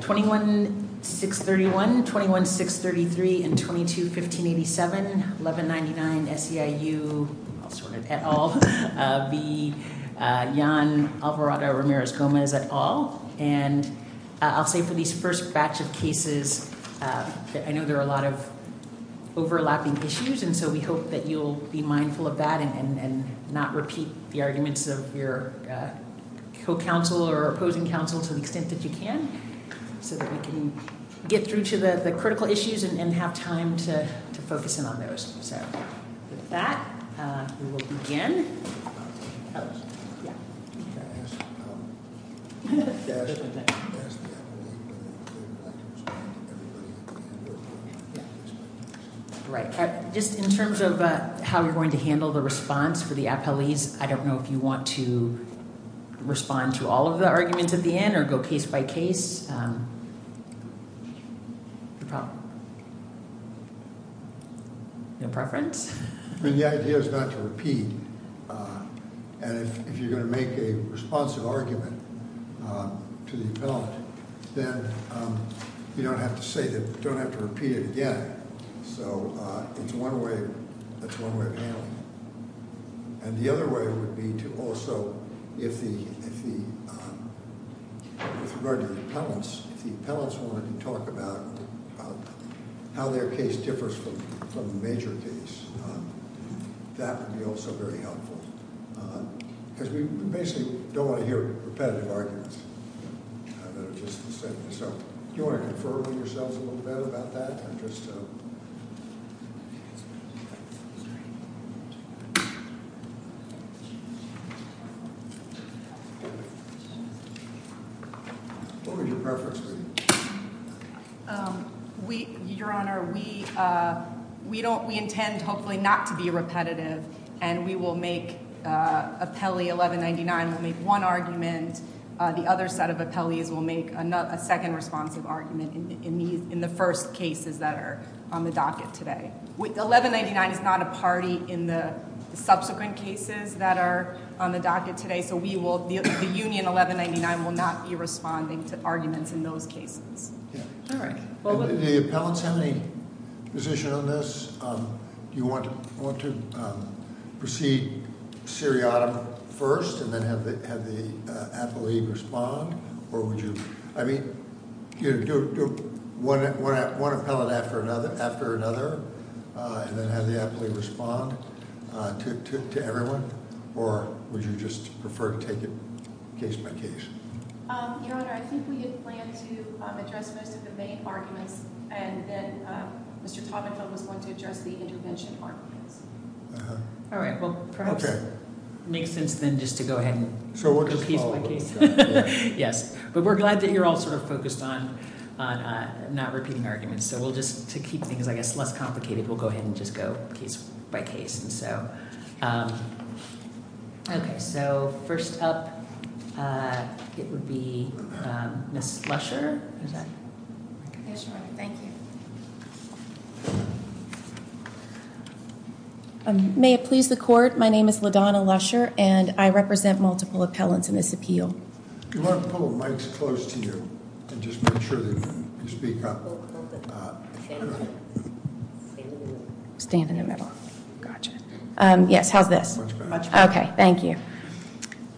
21-631, 21-633, 22-1587, 1199 SEIU et al v. Jan Alvarado Ramirez Gomez et al. And I'll say for these first batch of cases that I know there are a lot of overlapping issues and so we hope that you'll be mindful of that and not repeat the arguments of your co-counsel or opposing counsel to the extent that you can so that we can get through to the critical issues and have time to focus in on those. So with that, we will begin. Just in terms of how you're going to handle the response to the appellees, I don't know if you want to respond to all of the arguments at the end or go case by case. Your preference? The idea is not to repeat. And if you're going to make a responsive argument to the appellee, then you don't have to say it, you don't have to repeat it again. So it's one way to handle it. And the other way would be to also, if the appellants want to talk about how their case differs from the major case, that would be also very helpful. Because we basically don't want to hear repetitive arguments. So do you want to confer with yourselves a little bit about that? What would your preference be? Your Honor, we intend hopefully not to be repetitive and we will make appellee 1199 make one argument, and then the other set of appellees will make a second responsive argument in the first cases that are on the docket today. 1199 is not a party in the subsequent cases that are on the docket today, so the union 1199 will not be responding to arguments in those cases. Do the appellants have any position on this? Do you want to proceed seriatim first and then have the appellee respond? Or would you want an appellate after another and then have the appellee respond to everyone? Or would you just prefer to take it case by case? Your Honor, I think we just plan to address this as a main argument, and then Mr. Todrick will be the one to address the intervention part. All right. Well, perhaps it would make sense then just to go ahead and proceed case by case. Yes, but we're glad that you're all sort of focused on not repeating arguments. So we'll just, to keep things I guess less complicated, we'll go ahead and just go case by case. Okay. So first up, it would be Ms. Lusher. May it please the Court, my name is LaDonna Lusher, and I represent multiple appellants in this appeal. Do you want to put a mic close to you to just make sure that you speak up? Stand in the middle. Yes, how's this? Okay, thank you.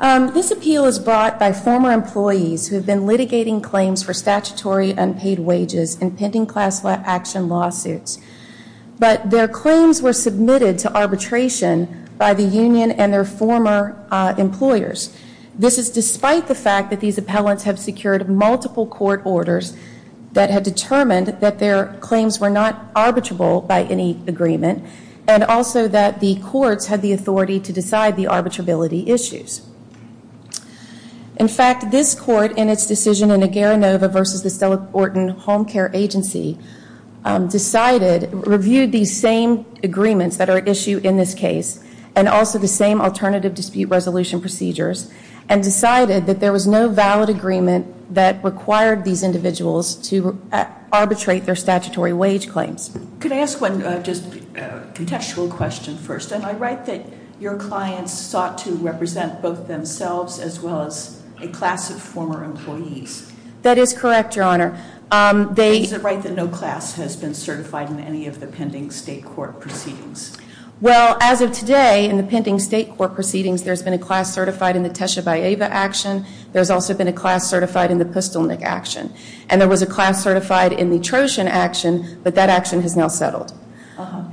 This appeal is brought by former employees who have been litigating claims for statutory unpaid wages and pending class action lawsuits. But their claims were submitted to arbitration by the union and their former employers. This is despite the fact that these appellants have secured multiple court orders that have determined that their claims were not arbitrable by any agreement and also that the courts had the authority to decide the arbitrability issues. In fact, this court in its decision in the Garanova v. Estella Horton Home Care Agency decided, reviewed these same agreements that are at issue in this case and also the same alternative dispute resolution procedures and decided that there was no valid agreement that required these individuals to arbitrate their statutory wage claims. Could I ask one just contextual question first? Am I right that your clients sought to represent both themselves as well as a class of former employees? That is correct, Your Honor. Is it right that no class has been certified in any of the pending state court proceedings? Well, as of today, in the pending state court proceedings, there's been a class certified in the Teshevayeva action. There's also been a class certified in the Pistolnik action. And there was a class certified in the Troshin action, but that action has now settled.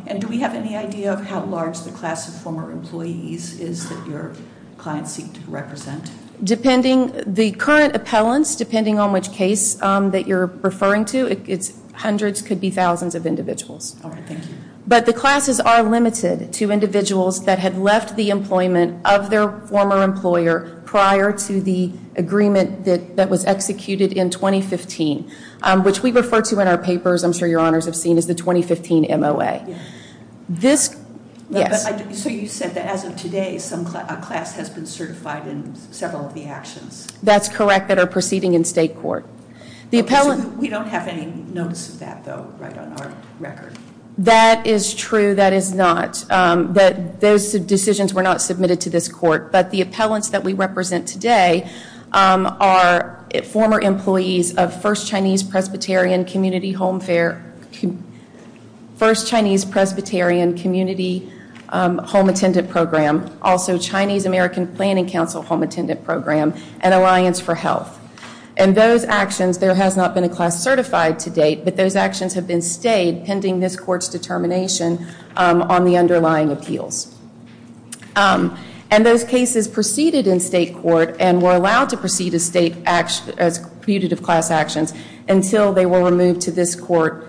And do we have any idea of how large the class of former employees is that your clients seek to represent? Depending, the current appellants, depending on which case that you're referring to, it's hundreds, could be thousands of individuals. But the classes are limited to individuals that had left the employment of their former employer prior to the agreement that was executed in 2015, which we refer to in our papers, I'm sure Your Honors have seen, as the 2015 MOA. But I assume you said that as of today, a class has been certified in several of the actions. That's correct, that are proceeding in state court. We don't have any notice of that, though, right on our record. That is true, that is not. But those decisions were not submitted to this court. But the appellants that we represent today are former employees of First Chinese Presbyterian Community Home Fair, First Chinese Presbyterian Community Home Attendant Program, also Chinese American Planning Council Home Attendant Program, and Alliance for Health. And those actions, there has not been a class certified to date, but those actions have been stayed pending this court's determination on the underlying appeals. And those cases proceeded in state court and were allowed to proceed as fugitive class actions until they were removed to this court,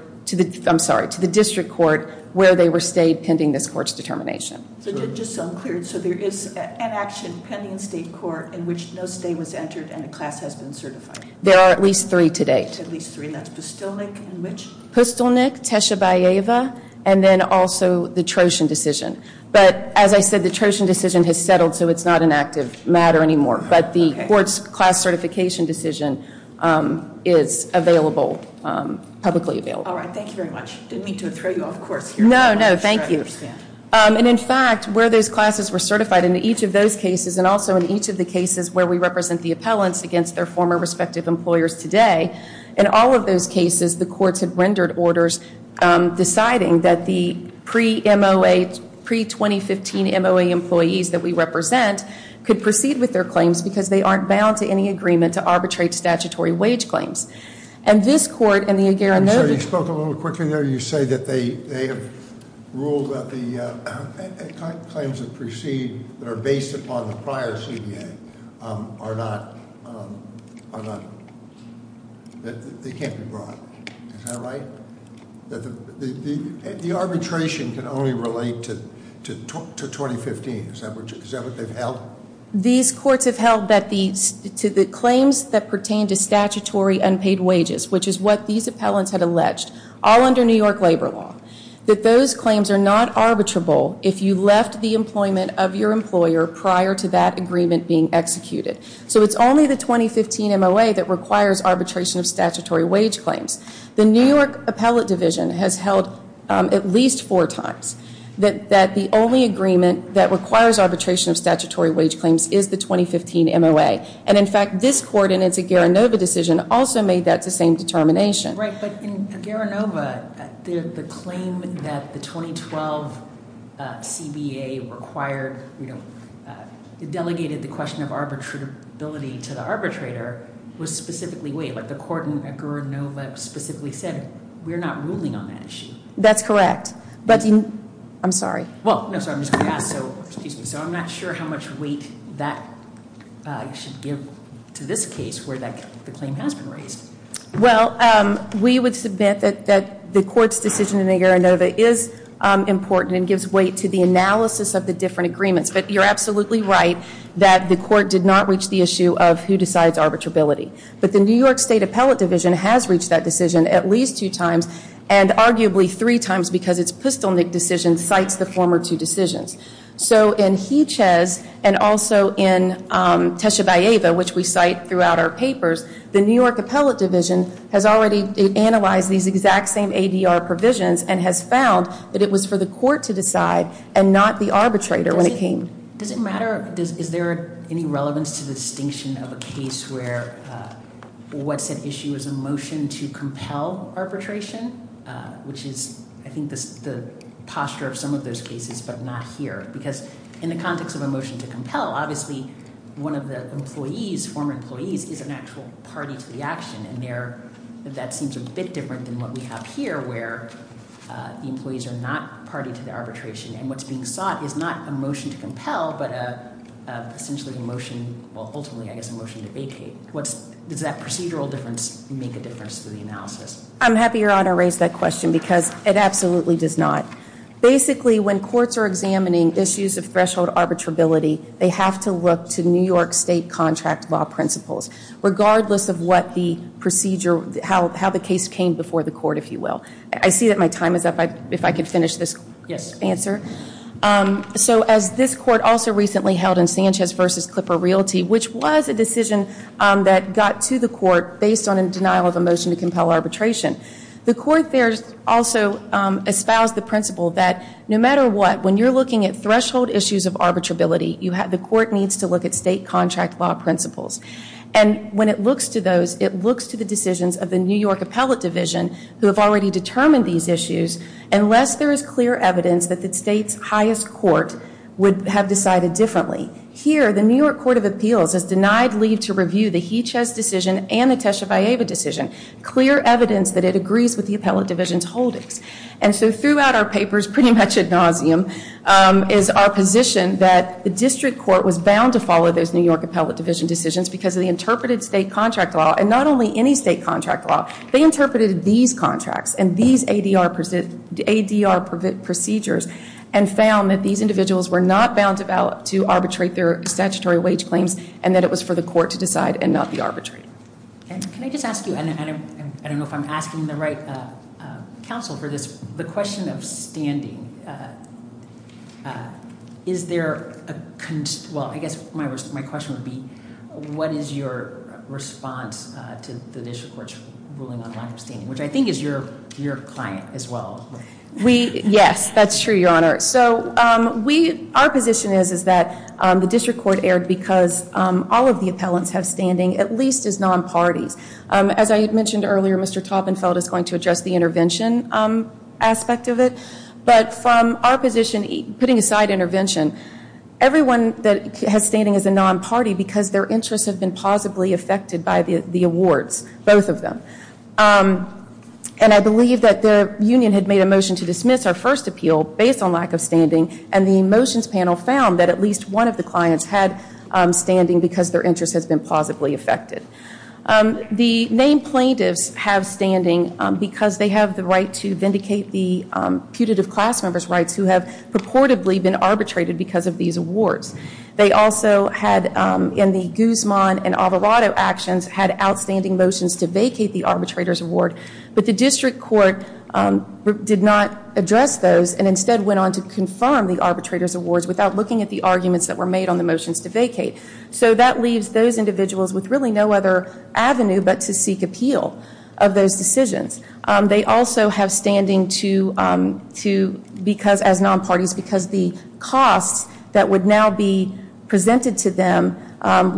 I'm sorry, to the district court, So there is an action pending state court in which no state was entered and a class has been certified. There are at least three today. At least three, that's Pustilnik and which? Pustilnik, Techevayeva, and then also the Trojan decision. But as I said, the Trojan decision has settled, so it's not an active matter anymore. But the court's class certification decision is publicly available. All right, thank you very much. Didn't mean to throw you off course here. No, no, thank you. And in fact, where those classes were certified, in each of those cases, and also in each of the cases where we represent the appellants against their former respective employers today, in all of those cases, the courts have rendered orders deciding that the pre-MOA, pre-2015 MOA employees that we represent could proceed with their claims because they aren't bound to any agreement to arbitrate statutory wage claims. And this court and the Indira Novi… You spoke a little quicker there. You say that they have ruled that the claims that proceed that are based upon the prior CBA are not, they can't be brought. Is that right? The arbitration can only relate to 2015. Is that what they've held? These courts have held that the claims that pertain to statutory unpaid wages, which is what these appellants have alleged, all under New York labor law, that those claims are not arbitrable if you left the employment of your employer prior to that agreement being executed. So it's only the 2015 MOA that requires arbitration of statutory wage claims. The New York Appellate Division has held at least four times that the only agreement that requires arbitration of statutory wage claims is the 2015 MOA. And, in fact, this court in its Garanova decision also made that the same determination. Right, but in Garanova, the claim that the 2012 CBA required, you know, delegated the question of arbitrability to the arbitrator was specifically weight. Like the court in Garanova specifically said, we're not ruling on that issue. That's correct. I'm sorry. So I'm not sure how much weight that should give to this case where that claim has been raised. Well, we would submit that the court's decision in Garanova is important and gives weight to the analysis of the different agreements. But you're absolutely right that the court did not reach the issue of who decides arbitrability. But the New York State Appellate Division has reached that decision at least two times and arguably three times because its Pustelnik decision cites the former two decisions. So in Hiches and also in Techevayeva, which we cite throughout our papers, the New York Appellate Division has already analyzed these exact same ADR provisions and has found that it was for the court to decide and not the arbitrator when it came. Does it matter? Is there any relevance to the distinction of a case where what's at issue is a motion to compel arbitration, which is I think the posture of some of those cases but not here. Because in the context of a motion to compel, obviously one of the employees, former employees, is an actual party to the action. And that seems a bit different than what we have here where the employees are not party to the arbitration. And what's being sought is not a motion to compel but essentially a motion, well, ultimately I guess a motion to vacate. Does that procedural difference make a difference to the analysis? I'm happy you're honored to raise that question because it absolutely does not. Basically, when courts are examining issues of threshold arbitrability, they have to look to New York State contract law principles, regardless of what the procedure, how the case came before the court, if you will. I see that my time is up. If I could finish this answer. So as this court also recently held in Sanchez v. Clipper Realty, which was a decision that got to the court based on a denial of a motion to compel arbitration, the court there also espoused the principle that no matter what, when you're looking at threshold issues of arbitrability, the court needs to look at state contract law principles. And when it looks to those, it looks to the decisions of the New York appellate division who have already determined these issues, unless there is clear evidence that the state's highest court would have decided differently. Here, the New York Court of Appeals has denied leave to review the Hichas decision and the Techev-Ieva decision, clear evidence that it agrees with the appellate division's holdings. And so throughout our papers, pretty much ad nauseum, is our position that the district court was bound to follow those New York appellate division decisions because they interpreted state contract law, and not only any state contract law, they interpreted these contracts and these ADR procedures and found that these individuals were not bound to arbitrate their statutory wage claims and that it was for the court to decide and not the arbitrator. Can I just ask you, and I don't know if I'm asking the right counsel for this, the question of standing, is there, well, I guess my question would be, what is your response to the district court's ruling on standing, which I think is your client as well. Yes, that's true, Your Honor. So our position is that the district court erred because all of the appellants have standing, at least as non-party. As I mentioned earlier, Mr. Toppenfeld is going to address the intervention aspect of it, but from our position, putting aside intervention, everyone that has standing is a non-party because their interests have been positively affected by the awards, both of them. And I believe that the union had made a motion to dismiss our first appeal based on lack of standing, and the motions panel found that at least one of the clients had standing because their interests had been positively affected. The named plaintiffs have standing because they have the right to vindicate the putative class member's rights who have purportedly been arbitrated because of these awards. They also had, in the Guzman and Alvarado actions, had outstanding motions to vacate the arbitrator's award, but the district court did not address those and instead went on to confirm the arbitrator's awards without looking at the arguments that were made on the motions to vacate. So that leaves those individuals with really no other avenue but to seek appeal of those decisions. They also have standing as non-parties because the costs that would now be presented to them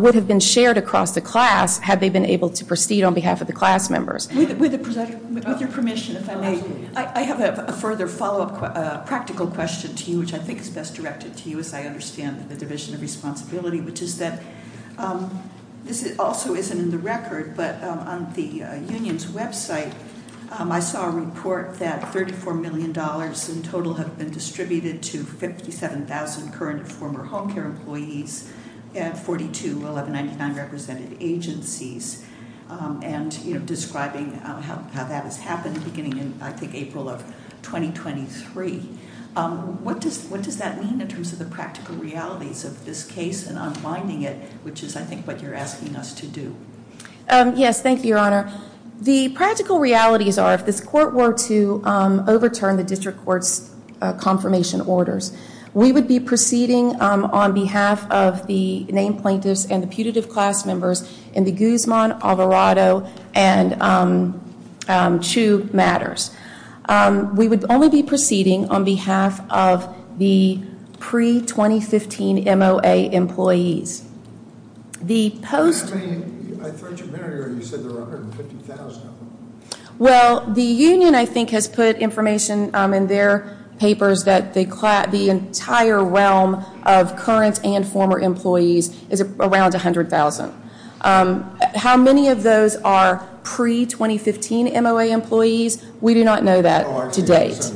would have been shared across the class had they been able to proceed on behalf of the class members. With your permission, if I may, I have a further follow-up practical question to you, which I think is best directed to you as I understand the Division of Responsibility, which is that this also isn't in the record, but on the union's website, I saw a report that $34 million in total has been distributed to 57,000 current and former home care employees and 42,199 represented agencies, and describing how that has happened beginning in, I think, April of 2023. What does that mean in terms of the practical realities of this case and unbinding it, which is, I think, what you're asking us to do? Yes, thank you, Your Honor. The practical realities are if this Court were to overturn the district court's confirmation orders, we would be proceeding on behalf of the named plaintiffs and the putative class members in the Guzman, Alvarado, and Chu matters. We would only be proceeding on behalf of the pre-2015 MOA employees. I thought you said there were 150,000. Well, the union, I think, has put information in their papers that the entire realm of current and former employees is around 100,000. How many of those are pre-2015 MOA employees, we do not know that to date,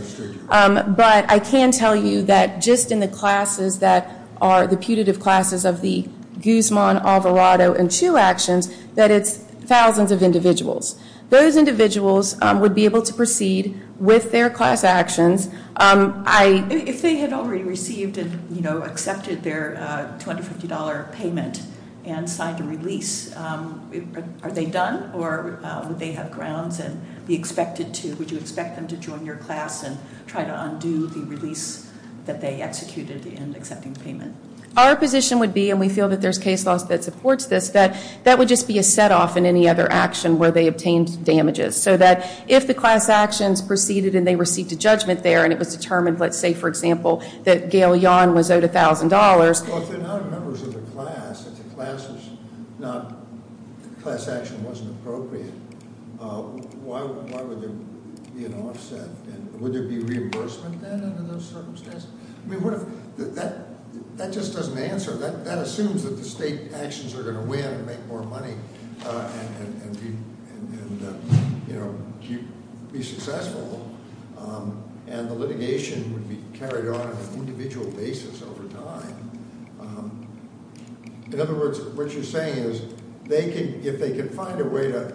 but I can tell you that just in the classes that are the putative classes of the Guzman, Alvarado, and Chu actions, that it's thousands of individuals. Those individuals would be able to proceed with their class actions. If they had already received and accepted their $250 payment and signed a release, are they done or would they have grounds and would you expect them to join your class and try to undo the release that they executed in accepting payment? Our position would be, and we feel that there's case law that supports this, that that would just be a set-off in any other action where they obtained damages, so that if the class actions proceeded and they received a judgment there and it was determined, let's say, for example, that Gail Yon was owed $1,000. Well, if they're not a member of the class and the class action wasn't appropriate, why would they be an offset? Would there be reimbursement for those circumstances? That just doesn't answer. That assumes that the state actions are going to win and make more money and, you know, be successful, and the litigation would be carried out on an individual basis over time. In other words, what you're saying is if they could find a way to,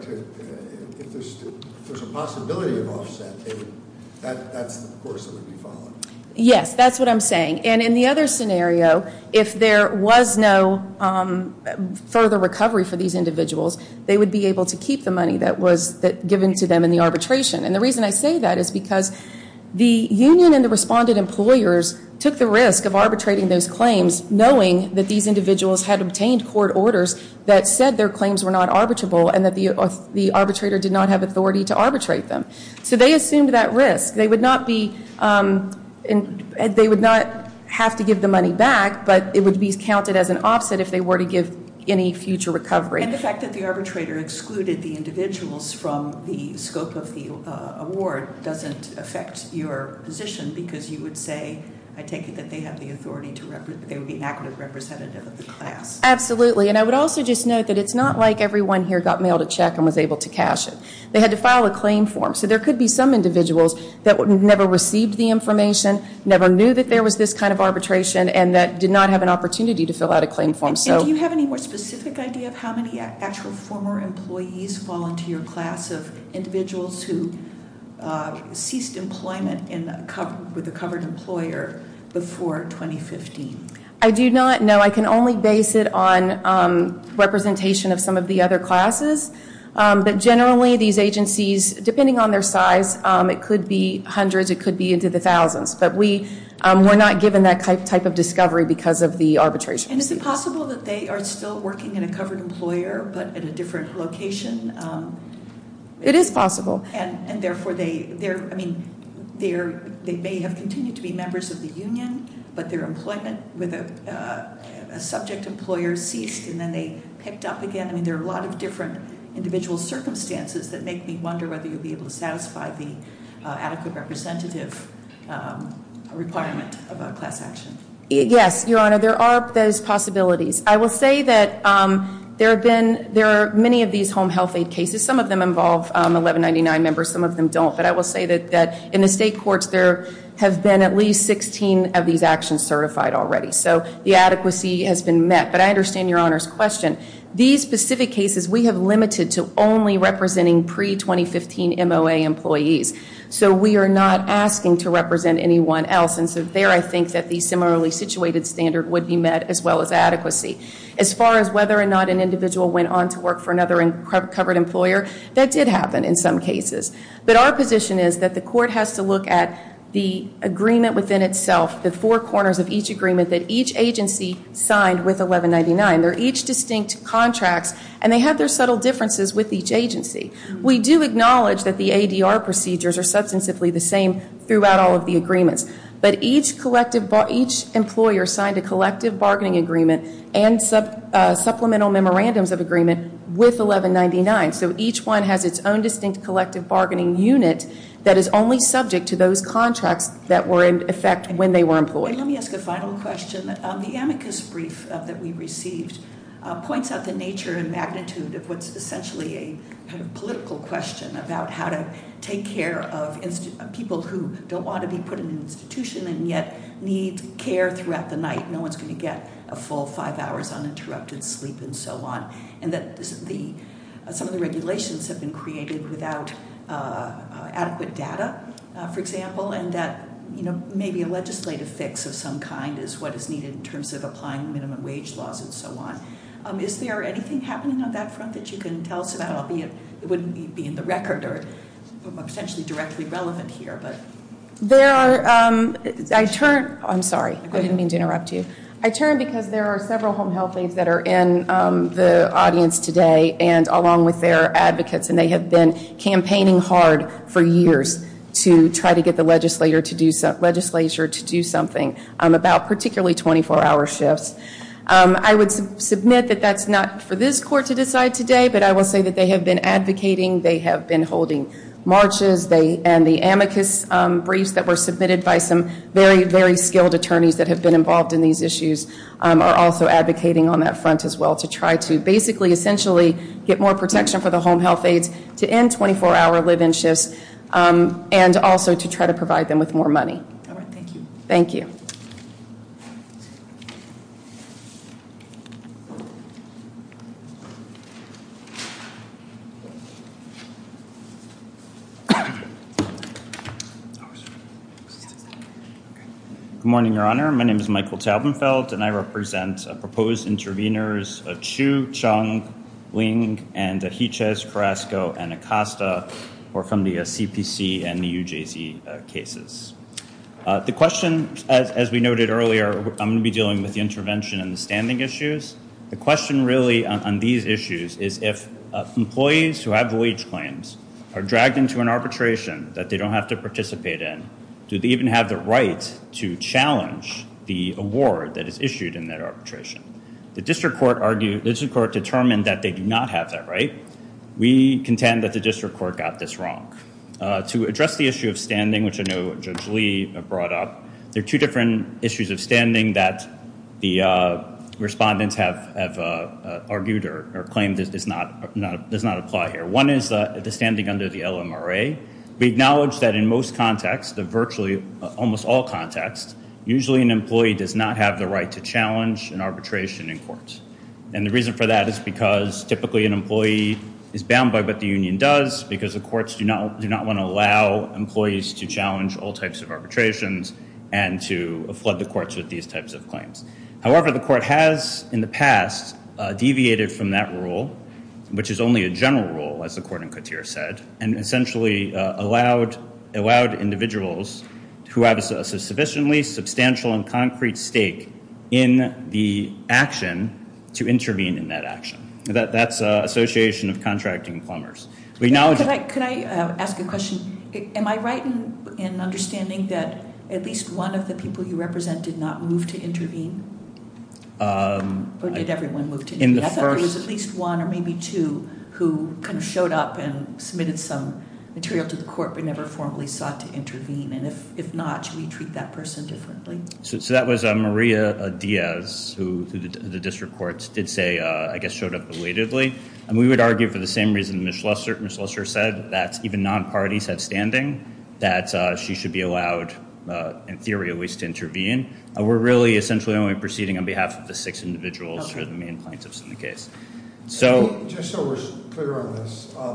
if there's a possibility of offset, that, of course, would be fine. Yes, that's what I'm saying. And in the other scenario, if there was no further recovery for these individuals, they would be able to keep the money that was given to them in the arbitration. And the reason I say that is because the union and the respondent employers took the risk of arbitrating those claims, knowing that these individuals had obtained court orders that said their claims were not arbitrable and that the arbitrator did not have authority to arbitrate them. So they assumed that risk. They would not be, they would not have to give the money back, but it would be counted as an offset if they were to give any future recovery. And the fact that the arbitrator excluded the individuals from the scope of the award doesn't affect your position because you would say, I take it, that they have the authority to, they would be an active representative of the class. Absolutely. And I would also just note that it's not like everyone here got mailed a check and was able to cash it. They had to file a claim form. So there could be some individuals that never received the information, never knew that there was this kind of arbitration, and that did not have an opportunity to fill out a claim form. And do you have any more specific idea of how many actual former employees fall into your class of individuals who ceased employment with a covered employer before 2015? I do not. No, I can only base it on representation of some of the other classes. But generally these agencies, depending on their size, it could be hundreds, it could be into the thousands. But we're not given that type of discovery because of the arbitration. And is it possible that they are still working in a covered employer but in a different location? It is possible. And therefore they may have continued to be members of the union, but their employment with a subject employer ceased, and then they picked up again. I mean, there are a lot of different individual circumstances that make me wonder whether you'd be able to satisfy the adequate representative requirement about class actions. Yes, Your Honor, there are those possibilities. I will say that there are many of these home health aid cases. Some of them involve 1199 members, some of them don't. But I will say that in the state courts there have been at least 16 of these actions certified already. So the adequacy has been met. But I understand Your Honor's question. These specific cases we have limited to only representing pre-2015 MOA employees. So we are not asking to represent anyone else. And so there I think that the similarly situated standard would be met as well as adequacy. As far as whether or not an individual went on to work for another covered employer, that did happen in some cases. But our position is that the court has to look at the agreement within itself, the four corners of each agreement that each agency signed with 1199. They're each distinct contract, and they have their subtle differences with each agency. We do acknowledge that the ADR procedures are substantively the same throughout all of the agreements. But each employer signed a collective bargaining agreement and supplemental memorandums of agreement with 1199. So each one has its own distinct collective bargaining unit that is only subject to those contracts that were in effect when they were employed. Let me ask a final question. The amicus brief that we received points out the nature and magnitude that was essentially a political question about how to take care of people who don't want to be put in an institution and yet need care throughout the night. No one's going to get a full five hours uninterrupted sleep and so on. Some of the regulations have been created without adequate data, for example, and that maybe a legislative fix of some kind is what is needed in terms of applying minimum wage laws and so on. Is there anything happening on that front that you can tell us about, albeit it wouldn't be in the record or essentially directly relevant here? I'm sorry, I didn't mean to interrupt you. I turned because there are several home health aides that are in the audience today and along with their advocates, and they have been campaigning hard for years to try to get the legislature to do something about particularly 24-hour shifts. I would submit that that's not for this court to decide today, but I will say that they have been advocating, they have been holding marches, and the amicus briefs that were submitted by some very, very skilled attorneys that have been involved in these issues are also advocating on that front as well to try to basically essentially get more protection for the home health aides to end 24-hour live-in shifts and also to try to provide them with more money. Thank you. Good morning, Your Honor. My name is Michael Tabenfeld, and I represent proposed intervenors of Chu, Chung, Ling, and Hichas, Carrasco, and Acosta who are from the CPC and the UJC cases. The question, as we noted earlier, I'm going to be dealing with the intervention and standing issues. The question really on these issues is if employees who have wage claims are dragged into an arbitration that they don't have to participate in, do they even have the right to challenge the award that is issued in that arbitration? The district court determined that they do not have that right. We contend that the district court got this wrong. To address the issue of standing, which I know Judge Lee brought up, there are two different issues of standing that the respondents have argued or claimed does not apply here. One is the standing under the LMRA. We acknowledge that in most contexts, virtually almost all contexts, usually an employee does not have the right to challenge an arbitration in court. The reason for that is because typically an employee is bound by what the union does because the courts do not want to allow employees to challenge all types of arbitrations and to flood the courts with these types of claims. However, the court has in the past deviated from that rule, which is only a general rule, as the court in Couture said, and essentially allowed individuals who have a sufficiently substantial and concrete stake in the action to intervene in that action. That's an association of contracting plumbers. Can I ask a question? Am I right in understanding that at least one of the people you represented did not move to intervene? Or did everyone move to intervene? I thought there was at least one or maybe two who kind of showed up and submitted some material to the court but never formally sought to intervene, and if not, should we treat that person differently? So that was Maria Diaz, who the district courts did say, I guess, showed up elatedly. We would argue for the same reason Ms. Lusser said, that even non-parties have standing, that she should be allowed, in theory at least, to intervene. We're really essentially only proceeding on behalf of the six individuals who are the main plaintiffs in the case. Just so we're clear on this, I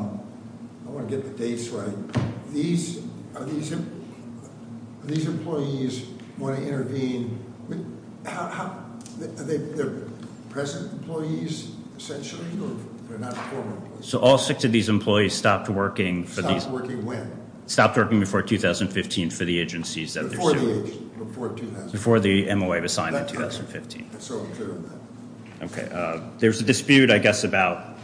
want to get the dates right. These employees want to intervene. Are they present employees, essentially? They're not former employees. So all six of these employees stopped working before 2015 for the agency's notice. Before the MOA was signed in 2015. Okay. There's a dispute, I guess, about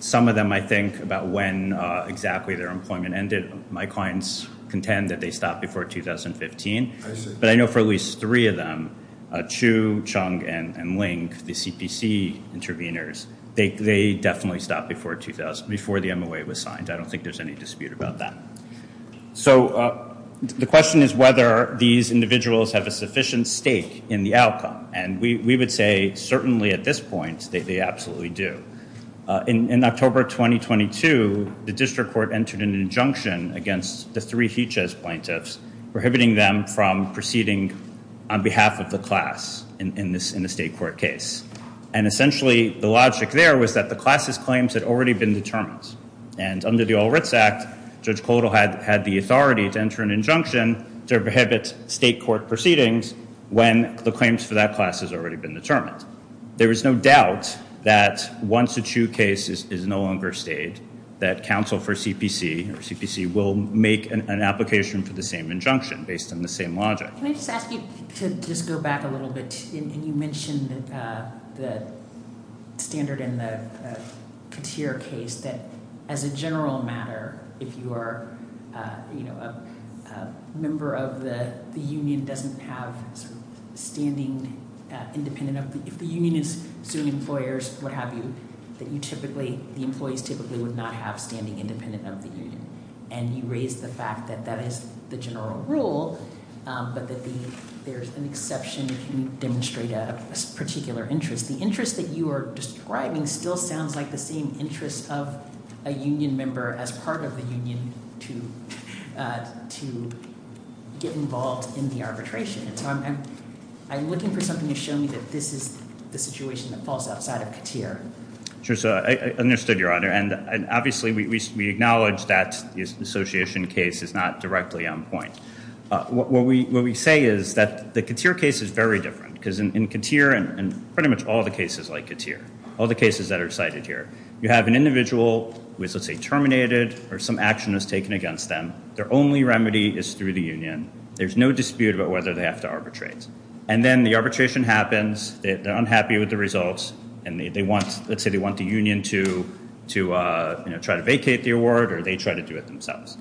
some of them, I think, about when exactly their employment ended. My clients contend that they stopped before 2015, but I know for at least three of them, Chu, Chung, and Ling, the CPC intervenors, they definitely stopped before the MOA was signed. I don't think there's any dispute about that. So the question is whether these individuals have a sufficient stake in the outcome, and we would say certainly at this point, they absolutely do. In October 2022, the district court entered an injunction against the three Fiches plaintiffs, prohibiting them from proceeding on behalf of the class in the state court case. And essentially, the logic there was that the class's claims had already been determined. And under the All Writs Act, Judge Kodal had the authority to enter an injunction to prohibit state court proceedings when the claims for that class has already been determined. There is no doubt that once a Chu case is no longer staged, that counsel for CPC or CPC will make an application to the same injunction, based on the same logic. Can I just ask you to just go back a little bit? You mentioned the standard in the Katir case, that as a general matter, if you are a member of the union, doesn't have standing independent of the union, that you typically, the employees typically would not have standing independent of the union. And you raised the fact that that is the general rule, but that there is an exception to demonstrate a particular interest. The interest that you are describing still sounds like the same interest of a union member as part of the union to get involved in the arbitration. I'm looking for something to show me that this is the situation that falls outside of Katir. I understood, Your Honor. And obviously, we acknowledge that the association case is not directly on point. What we say is that the Katir case is very different, because in Katir and pretty much all the cases like Katir, all the cases that are cited here, you have an individual who is, let's say, terminated or some action is taken against them. Their only remedy is through the union. There's no dispute about whether they have to arbitrate. And then the arbitration happens. They're unhappy with the results. And they want, let's say, they want the union to try to vacate the award, or they try to do it themselves.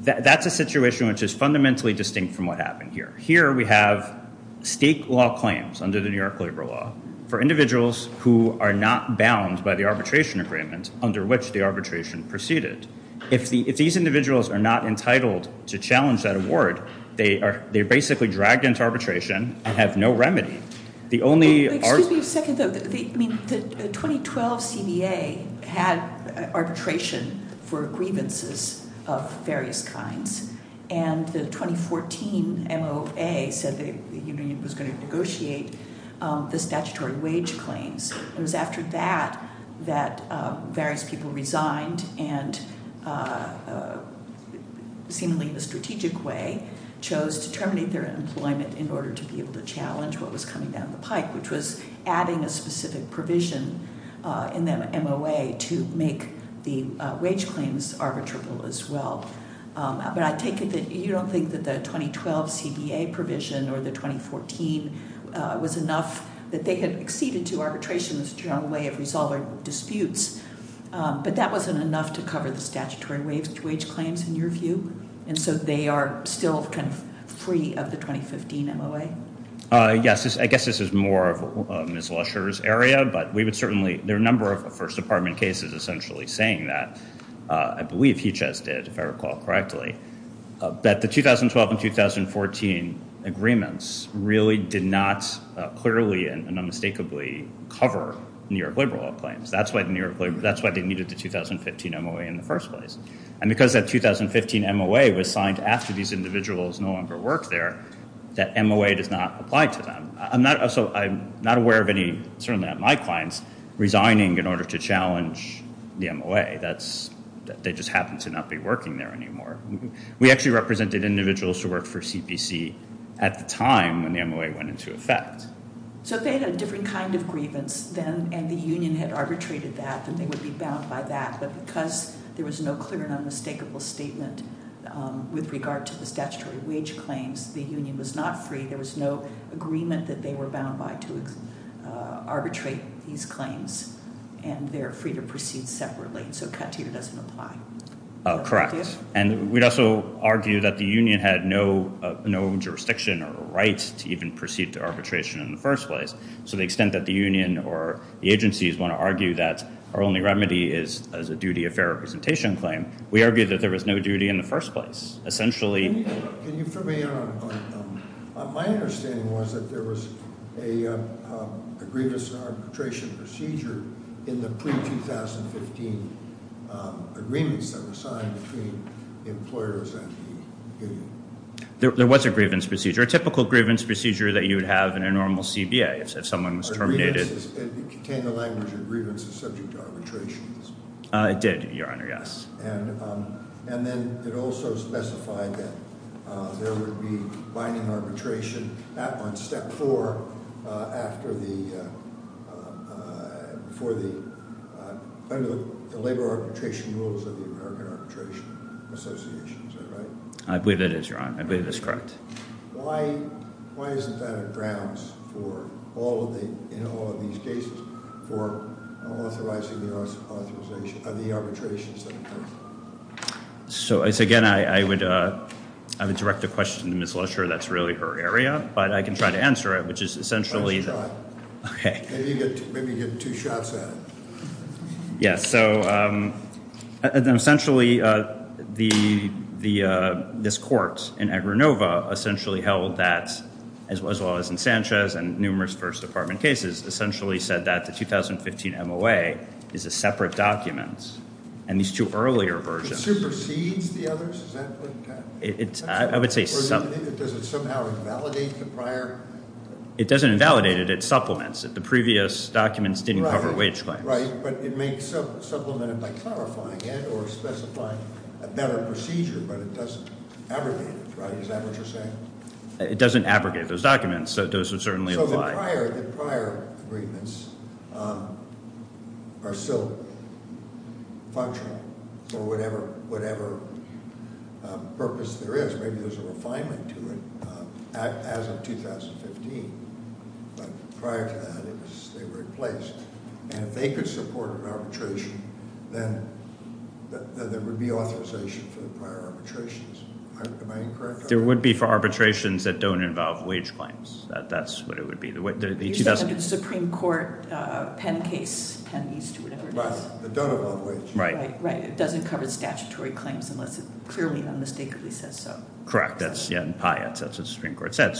That's a situation which is fundamentally distinct from what happened here. Here we have state law claims under the New York legal law for individuals who are not bound by the arbitration agreement under which the arbitration proceeded. If these individuals are not entitled to challenge that award, they are basically dragged into arbitration and have no remedy. The only argument... Excuse me a second, though. The 2012 CBA had arbitration for grievances of various kinds. And the 2014 NOA said that the union was going to negotiate the statutory wage claims. It was after that that various people resigned, and seemingly the strategic way chose to terminate their employment in order to be able to challenge what was coming down the pipe, which was adding a specific provision in the NOA to make the wage claims arbitrable as well. But I take it that you don't think that the 2012 CBA provision or the 2014 was enough that they had acceded to arbitration as a strong way of resolving disputes, but that wasn't enough to cover the statutory wage claims in your view, and so they are still free of the 2015 NOA? Yes. I guess this is more of Ms. Lusher's area, but there are a number of First Department cases essentially saying that. I believe he just did, if I recall correctly, that the 2012 and 2014 agreements really did not clearly and unmistakably cover New York liberal claims. That's why they needed the 2015 NOA in the first place. And because that 2015 NOA was signed after these individuals no longer worked there, that NOA did not apply to them. So I'm not aware of any, certainly not my clients, resigning in order to challenge the NOA. They just happen to not be working there anymore. We actually represented individuals who worked for CPC at the time when the NOA went into effect. So they had a different kind of grievance, and the union had arbitrated that and they would be bound by that, but because there was no clear and unmistakable statement with regard to the statutory wage claims, the union was not free. There was no agreement that they were bound by to arbitrate these claims, and they're free to proceed separately. Correct. And we'd also argue that the union had no jurisdiction or rights to even proceed to arbitration in the first place. To the extent that the union or the agencies want to argue that our only remedy is a duty of fair representation claim, we argue that there was no duty in the first place. Essentially... Can you put me on? My understanding was that there was a grievance arbitration procedure in the pre-2015 agreements that were signed between employers and the union. There was a grievance procedure, a typical grievance procedure that you would have in a normal CBA if someone was terminated. It contained the language that grievance is subject to arbitration. It did, Your Honor, yes. And then it also specified that there would be binding arbitration. That was step four after the labor arbitration rules of the American Arbitration Association. I believe that is, Your Honor. I believe that's correct. Why isn't that a grounds for all of these cases for authorizing the arbitration system? So, again, I would direct the question to Ms. Lesher. I'm not sure that's really her area, but I can try to answer it, which is essentially... Maybe you have two shots at it. Yeah, so, essentially, this court in Agranova essentially held that, as well as in Sanchez and numerous first department cases, essentially said that the 2015 MOA is a separate document, and these two earlier versions... It supersedes the others? I would say... It doesn't invalidate it. It supplements it. The previous documents didn't cover wage claims. It doesn't abrogate those documents, so those would certainly apply. Maybe there's a refinement to it, as of 2015. But prior to that, it was a separate place. If they could support an arbitration, then there would be authorization for the prior arbitrations. Am I correct? There would be for arbitrations that don't involve wage claims. That's what it would be. It doesn't have a Supreme Court pen case. It doesn't involve wage claims. Right. It doesn't cover statutory claims, unless it's clearly unmistakably said so. Correct. That's what the Supreme Court said.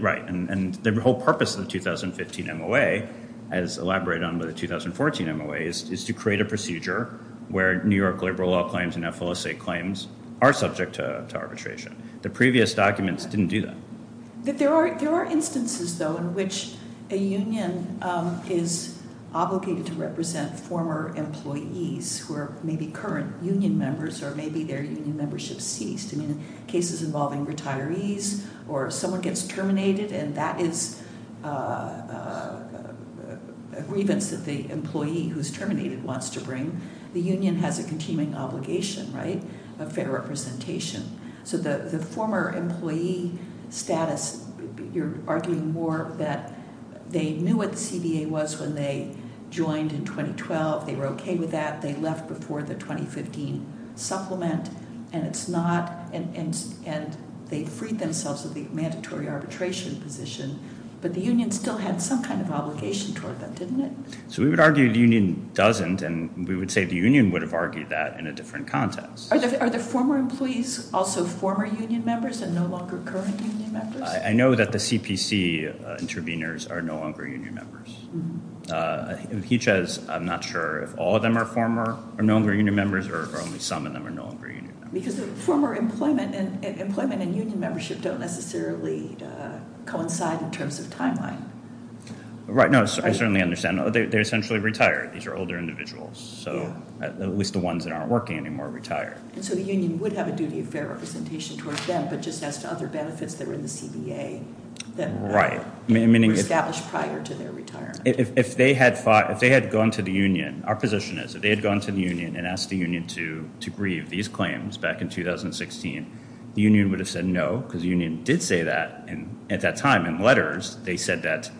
Right, and the whole purpose of the 2015 MOA, as elaborated on by the 2014 MOA, is to create a procedure where New York liberal law claims and FLSA claims are subject to arbitration. The previous documents didn't do that. But there are instances, though, in which a union is obligated to represent former employees who are maybe current union members, or maybe their union membership is seized. In cases involving retirees, or someone gets terminated, and that is a grievance that the employee who's terminated wants to bring, the union has a continuing obligation of fair representation. So the former employee status, you're arguing more that they knew what the CBA was when they joined in 2012. They were okay with that. They left before the 2015 supplement, and they freed themselves of the mandatory arbitration position. But the union still had some kind of obligation toward them, didn't it? So we would argue the union doesn't, and we would say the union would have argued that in a different context. Are the former employees also former union members and no longer current union members? I know that the CPC intervenors are no longer union members. He says, I'm not sure if all of them are former or no longer union members, or if only some of them are no longer union members. Because former employment and union membership don't necessarily coincide in terms of timeline. Right, no, I certainly understand. They're essentially retired. These are older individuals, at least the ones that aren't working anymore are retired. So the union would have a duty of fair representation towards them, but just as to other benefits that are in the CBA that were established prior to their retirement. If they had gone to the union, our position is, if they had gone to the union and asked the union to grieve these claims back in 2016, the union would have said no, because the union did say that. And at that time, in letters, they said that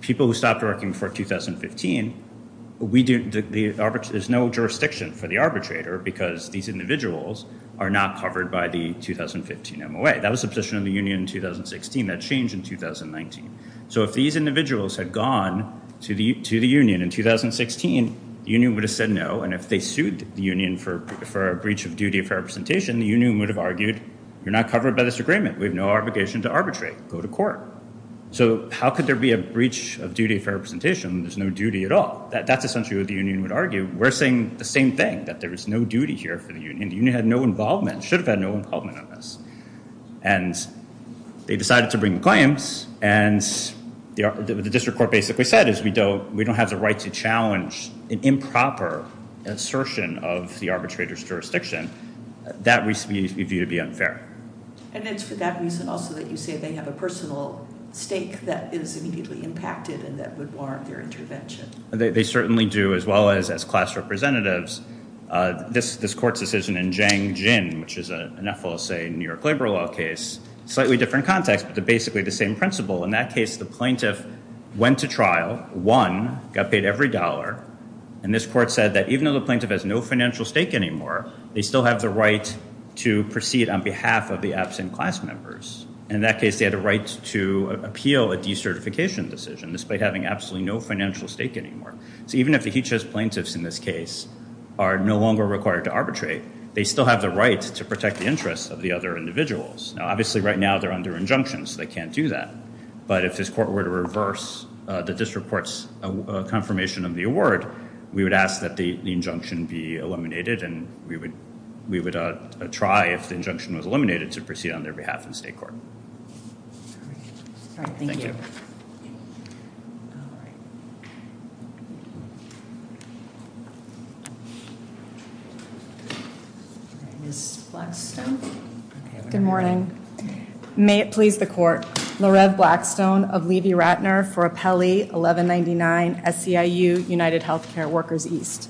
people who stopped working for 2015, there's no jurisdiction for the arbitrator because these individuals are not covered by the 2015 MOA. Right, that was the position of the union in 2016. That changed in 2019. So if these individuals had gone to the union in 2016, the union would have said no, and if they sued the union for a breach of duty of fair representation, the union would have argued, you're not covered by this agreement. We have no obligation to arbitrate. Go to court. So how could there be a breach of duty of fair representation when there's no duty at all? That's essentially what the union would argue. We're saying the same thing, that there is no duty here for the union. The union had no involvement, should have had no involvement in this. And they decided to bring the claims, and the district court basically said, we don't have the right to challenge an improper assertion of the arbitrator's jurisdiction. That would be viewed to be unfair. And it's for that reason also that you say they have a personal stake that is immediately impacted and that would warrant their intervention. They certainly do, as well as class representatives. This court's decision in Jiang Jin, which is a Nepal, say, New York labor law case, slightly different context, but basically the same principle. In that case, the plaintiff went to trial, won, got paid every dollar, and this court said that even though the plaintiff has no financial stake anymore, they still have the right to proceed on behalf of the absent class members. And in that case, they had a right to appeal a decertification decision, despite having absolutely no financial stake anymore. So even if the HHS plaintiffs in this case are no longer required to arbitrate, they still have the right to protect the interests of the other individuals. Now, obviously, right now, they're under injunction, so they can't do that. But if this court were to reverse the district court's confirmation of the award, we would ask that the injunction be eliminated and we would try, if the injunction was eliminated, to proceed on their behalf in state court. Thank you. Ms. Blackstone. Good morning. May it please the court, Lorette Blackstone of Levy-Ratner for Appellee 1199-SCIU UnitedHealthcare Workers East.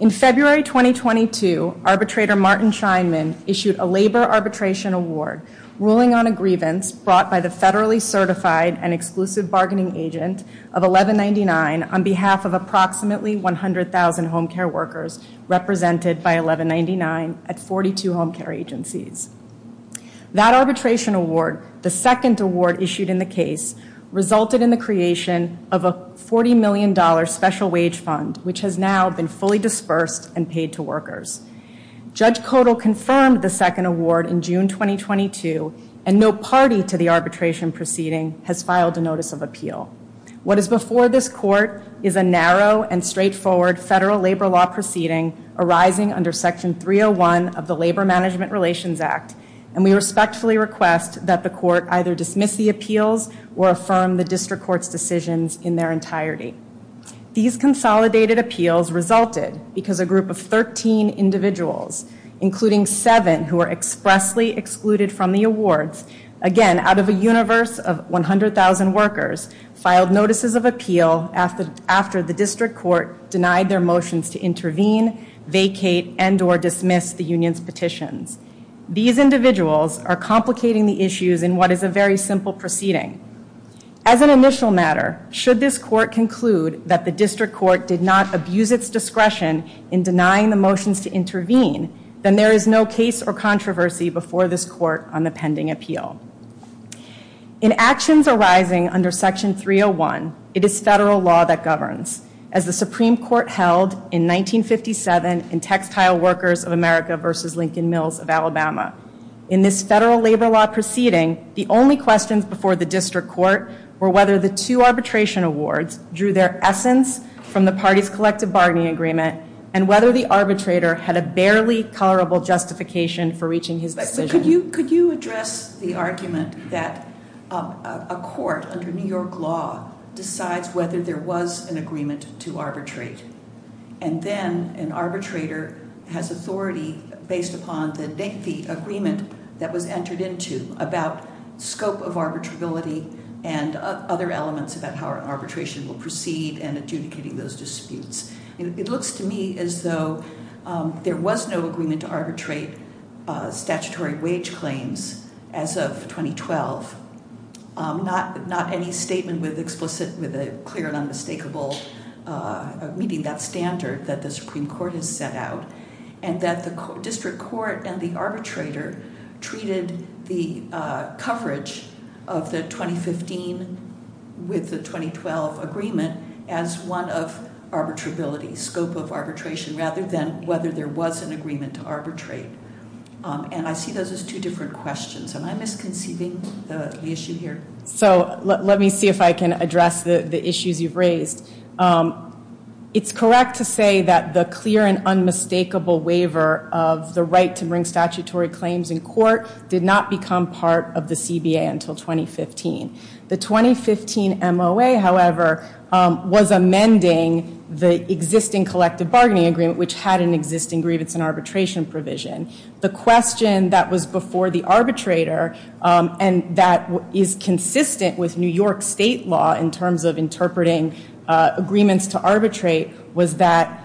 In February 2022, arbitrator Martin Scheinman issued a labor arbitration award ruling on a grievance brought by the federally certified and exclusive bargaining agent of 1199 on behalf of a nonpartisan organization of approximately 100,000 home care workers represented by 1199 at 42 home care agencies. That arbitration award, the second award issued in the case, resulted in the creation of a $40 million special wage fund, which has now been fully dispersed and paid to workers. Judge Kodal confirmed the second award in June 2022, and no party to the arbitration proceeding has filed a notice of appeal. What is before this court is a narrow and straightforward federal labor law proceeding arising under Section 301 of the Labor Management Relations Act, and we respectfully request that the court either dismiss the appeals or affirm the district court's decisions in their entirety. These consolidated appeals resulted because a group of 13 individuals, including seven who were expressly excluded from the awards, again, out of a universe of 100,000 workers, filed notices of appeal after the district court denied their motions to intervene, vacate, and or dismiss the union's petition. These individuals are complicating the issues in what is a very simple proceeding. As an initial matter, should this court conclude that the district court did not abuse its discretion in denying the motions to intervene, then there is no case or controversy before this court on the pending appeal. In actions arising under Section 301, it is federal law that governs, as the Supreme Court held in 1957 in Textile Workers of America v. Lincoln Mills of Alabama. In this federal labor law proceeding, the only questions before the district court were whether the two arbitration awards drew their essence from the party's collective bargaining agreement had a barely tolerable justification for reaching his decision. Could you address the arbitration argument that a court under New York law decides whether there was an agreement to arbitrate, and then an arbitrator has authority based upon the agreement that was entered into about scope of arbitrability and other elements about how arbitration will proceed and adjudicating those disputes. It looks to me as though there was no agreement to arbitrate statutory wage claims as of 2012. Not any statement was explicit with a clear and unmistakable meeting that standard that the Supreme Court has set out. And that the district court and the arbitrator treated the coverage of the 2015 with the 2012 agreement scope of arbitration, rather than whether there was an agreement to arbitrate. And I see those as two different questions. Am I misconceiving the issue here? So, let me see if I can address the issues you've raised. It's correct to say that the clear and unmistakable waiver of the right to bring statutory claims in court did not become part of the CBA until 2015. The 2015 MOA, however, was amending the existing collective bargaining agreement which had an existing agreement and arbitration provision. The question that was before the arbitrator and that is consistent with New York state law in terms of interpreting agreements to arbitrate was that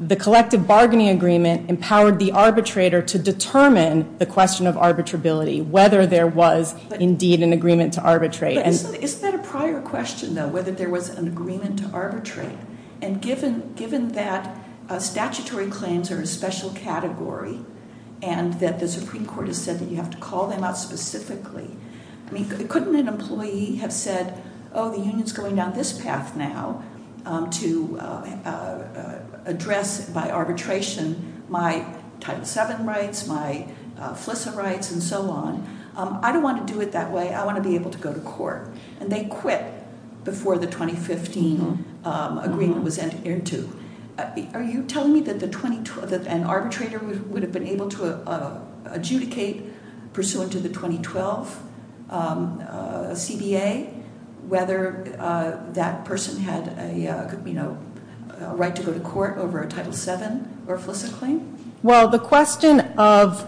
the collective bargaining agreement empowered the arbitrator to determine the question of arbitrability. Whether there was indeed an agreement to arbitrate. Isn't that a prior question, though? Whether there was an agreement to arbitrate. And given that statutory claims are a special category and that the Supreme Court has said that you have to call them out specifically, couldn't an employee have said, oh, the union's going down this path now to address by arbitration my Title VII rights, my FLISA rights, and so on. I don't want to do it that way. I want to be able to go to court. And they quit before the 2015 agreement was adhered to. Are you telling me that an arbitrator would have been able to adjudicate pursuant to the 2012 CDA whether that person had a right to go to court over a Title VII or FLISA claim? Well, the question of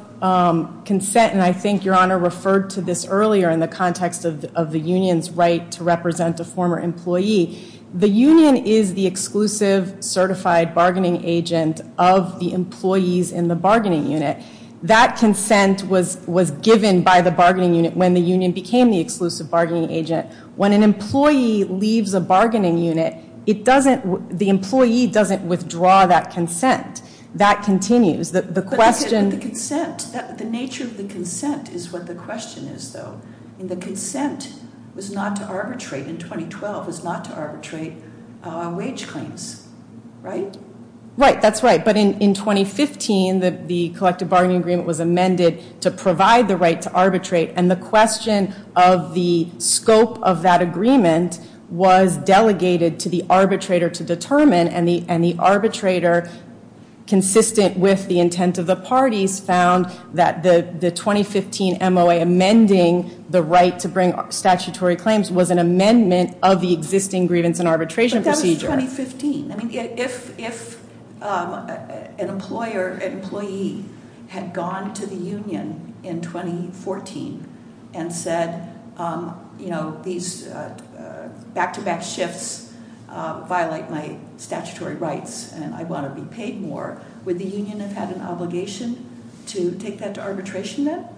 consent, and I think Your Honor referred to this earlier in the context of the union's right to represent the former employee, the union is the exclusive certified bargaining agent of the employees in the bargaining unit. That consent was given by the bargaining unit when the union became the exclusive bargaining agent. When an employee leaves a bargaining unit, the employee doesn't withdraw that consent. That continues. The nature of the consent is what the question is, though. The consent was not to arbitrate in 2012. It's not to arbitrate wage claims. Right? Right, that's right. But in 2015, the collective bargaining agreement was amended to provide the right to arbitrate. And the question of the scope of that agreement was delegated to the arbitrator to determine. And the arbitrator, consistent with the intent of the parties, found that the 2015 MOA amending the right to bring statutory claims was an amendment of the existing grievance and arbitration procedure. But that was 2015. I mean, if an employee had gone to the union in 2014 and said, you know, these back-to-back shifts violate my statutory rights and I want to be paid more, would the union have an obligation to take that to arbitration then?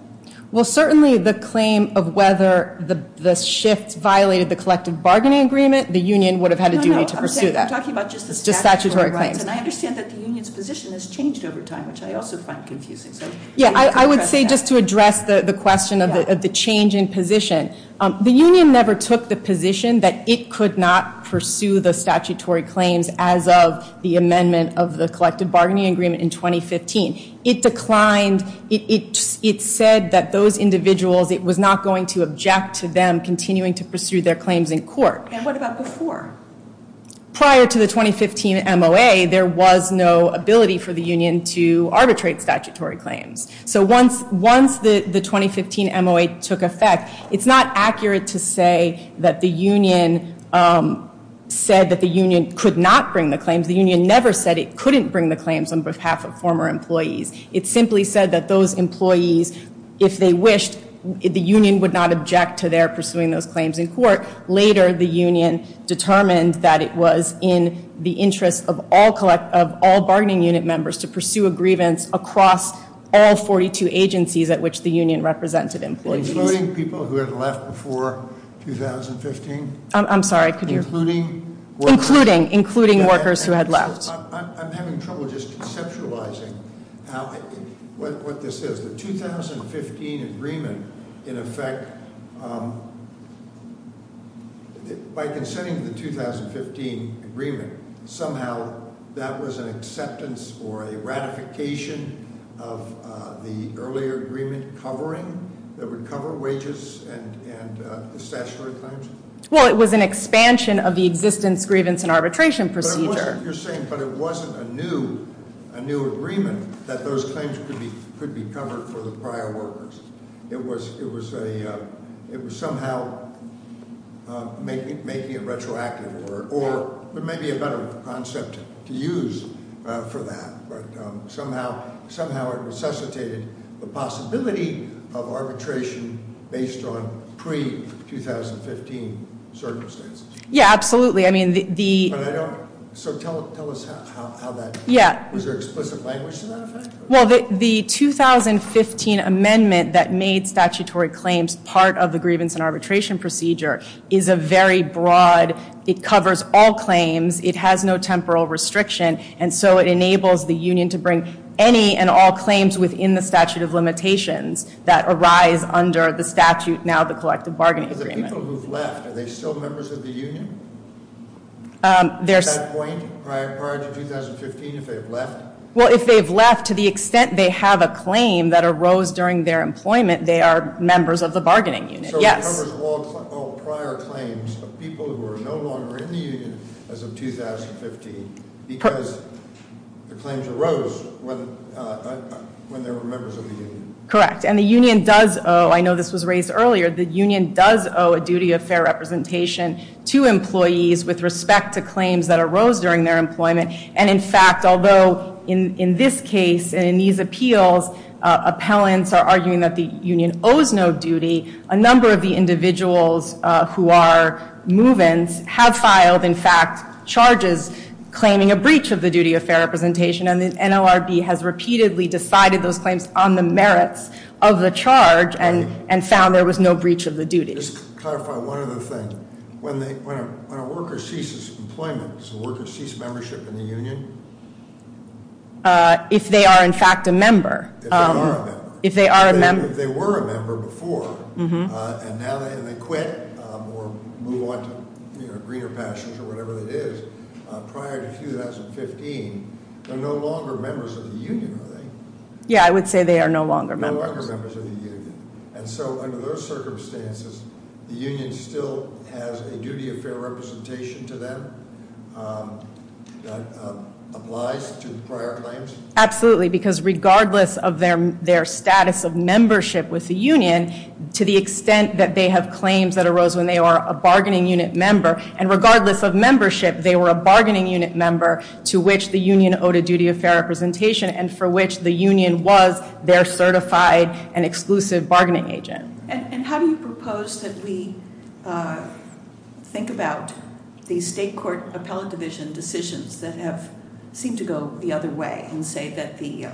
Well, certainly the claim of whether the shift violated the collective bargaining agreement, the union would have had a new way to pursue that. I'm talking about just the statutory claims. And I understand that the union's position has changed over time, which I also find confusing. Yeah, I would say just to address the question of the change in position, the union never took the position that it could not pursue the statutory claims as of the amendment of the collective bargaining agreement in 2015. It declined. It said that those individuals, it was not going to object to them continuing to pursue their claims in court. And what about before? Prior to the 2015 MOA, there was no ability for the union to arbitrate statutory claims. So once the 2015 MOA took effect, it's not accurate to say that the union said that the union could not bring the claims. The union never said it couldn't bring the claims on behalf of former employees. It simply said that those employees, if they wished, the union would not object to their pursuing those claims in court. Later, the union determined that it was in the interest of all bargaining unit members to pursue a grievance across all 42 agencies at which the union represented employees. Including people who had left before 2015? I'm sorry. Including? Including. Including workers who had left. I'm having trouble just conceptualizing what this is. So the 2015 agreement, in effect, by consenting to the 2015 agreement, somehow that was an acceptance or a ratification of the earlier agreement covering, that would cover wages and the statutory claims? Well, it was an expansion of the existing grievance and arbitration procedure. You're saying, but it wasn't a new, a new agreement that those claims could be covered for the prior workers. It was a, it was somehow making it retroactive or maybe a better concept to use for that. But somehow, it necessitated the possibility of arbitration based on pre-2015 circumstances. Yeah, absolutely. I mean, the... So tell us how that... Yeah. Was there explicit language to that effect? Well, the 2015 amendment that made statutory claims part of the grievance and arbitration procedure is a very broad, it covers all claims, it has no temporal restriction, and so it enables the union to bring any and all claims within the statute of limitations that arise under the statute now of the collective bargaining agreement. The people who've left, are they still members of the union? At that point? Prior to 2015, if they've left? Well, if they've left, to the extent they have a claim that arose during their employment, they are members of the bargaining unit. So it covers all so-called prior claims of people who are no longer in the union as of 2015 because the claims arose when they were members of the union. Correct. And the union does owe, I know this was raised earlier, the union does owe a duty of fair representation to employees with respect to claims that arose during their employment. And in fact, although in this case, in these appeals, appellants are arguing that the union owes no duty, a number of the individuals who are move-ins have filed, in fact, charges claiming a breach of the duty of fair representation and the NLRB has repeatedly decided those claims on the merits of the charge and found there was no breach of the duty. Just to clarify one other thing, when a worker ceases employment, so a worker ceases membership in the union? If they are, in fact, a member. If they are a member. If they were a member before and now they can quit or move on to, you know, greener fashions or whatever it is, prior to 2015, they're no longer members of the union, are they? Yeah, I would say they are no longer members. No longer members of the union. And so under those circumstances, the union still has a duty of fair representation to them? That applies to prior claims? Absolutely, because regardless of their status of membership with the union, to the extent that they have claims that arose when they were a bargaining unit member, and regardless of membership, they were a bargaining unit member to which the union owed a duty of fair representation and for which the union was their certified and exclusive bargaining agent. And how do you propose that we think about the state court appellate division decisions that have seemed to go the other way and say that the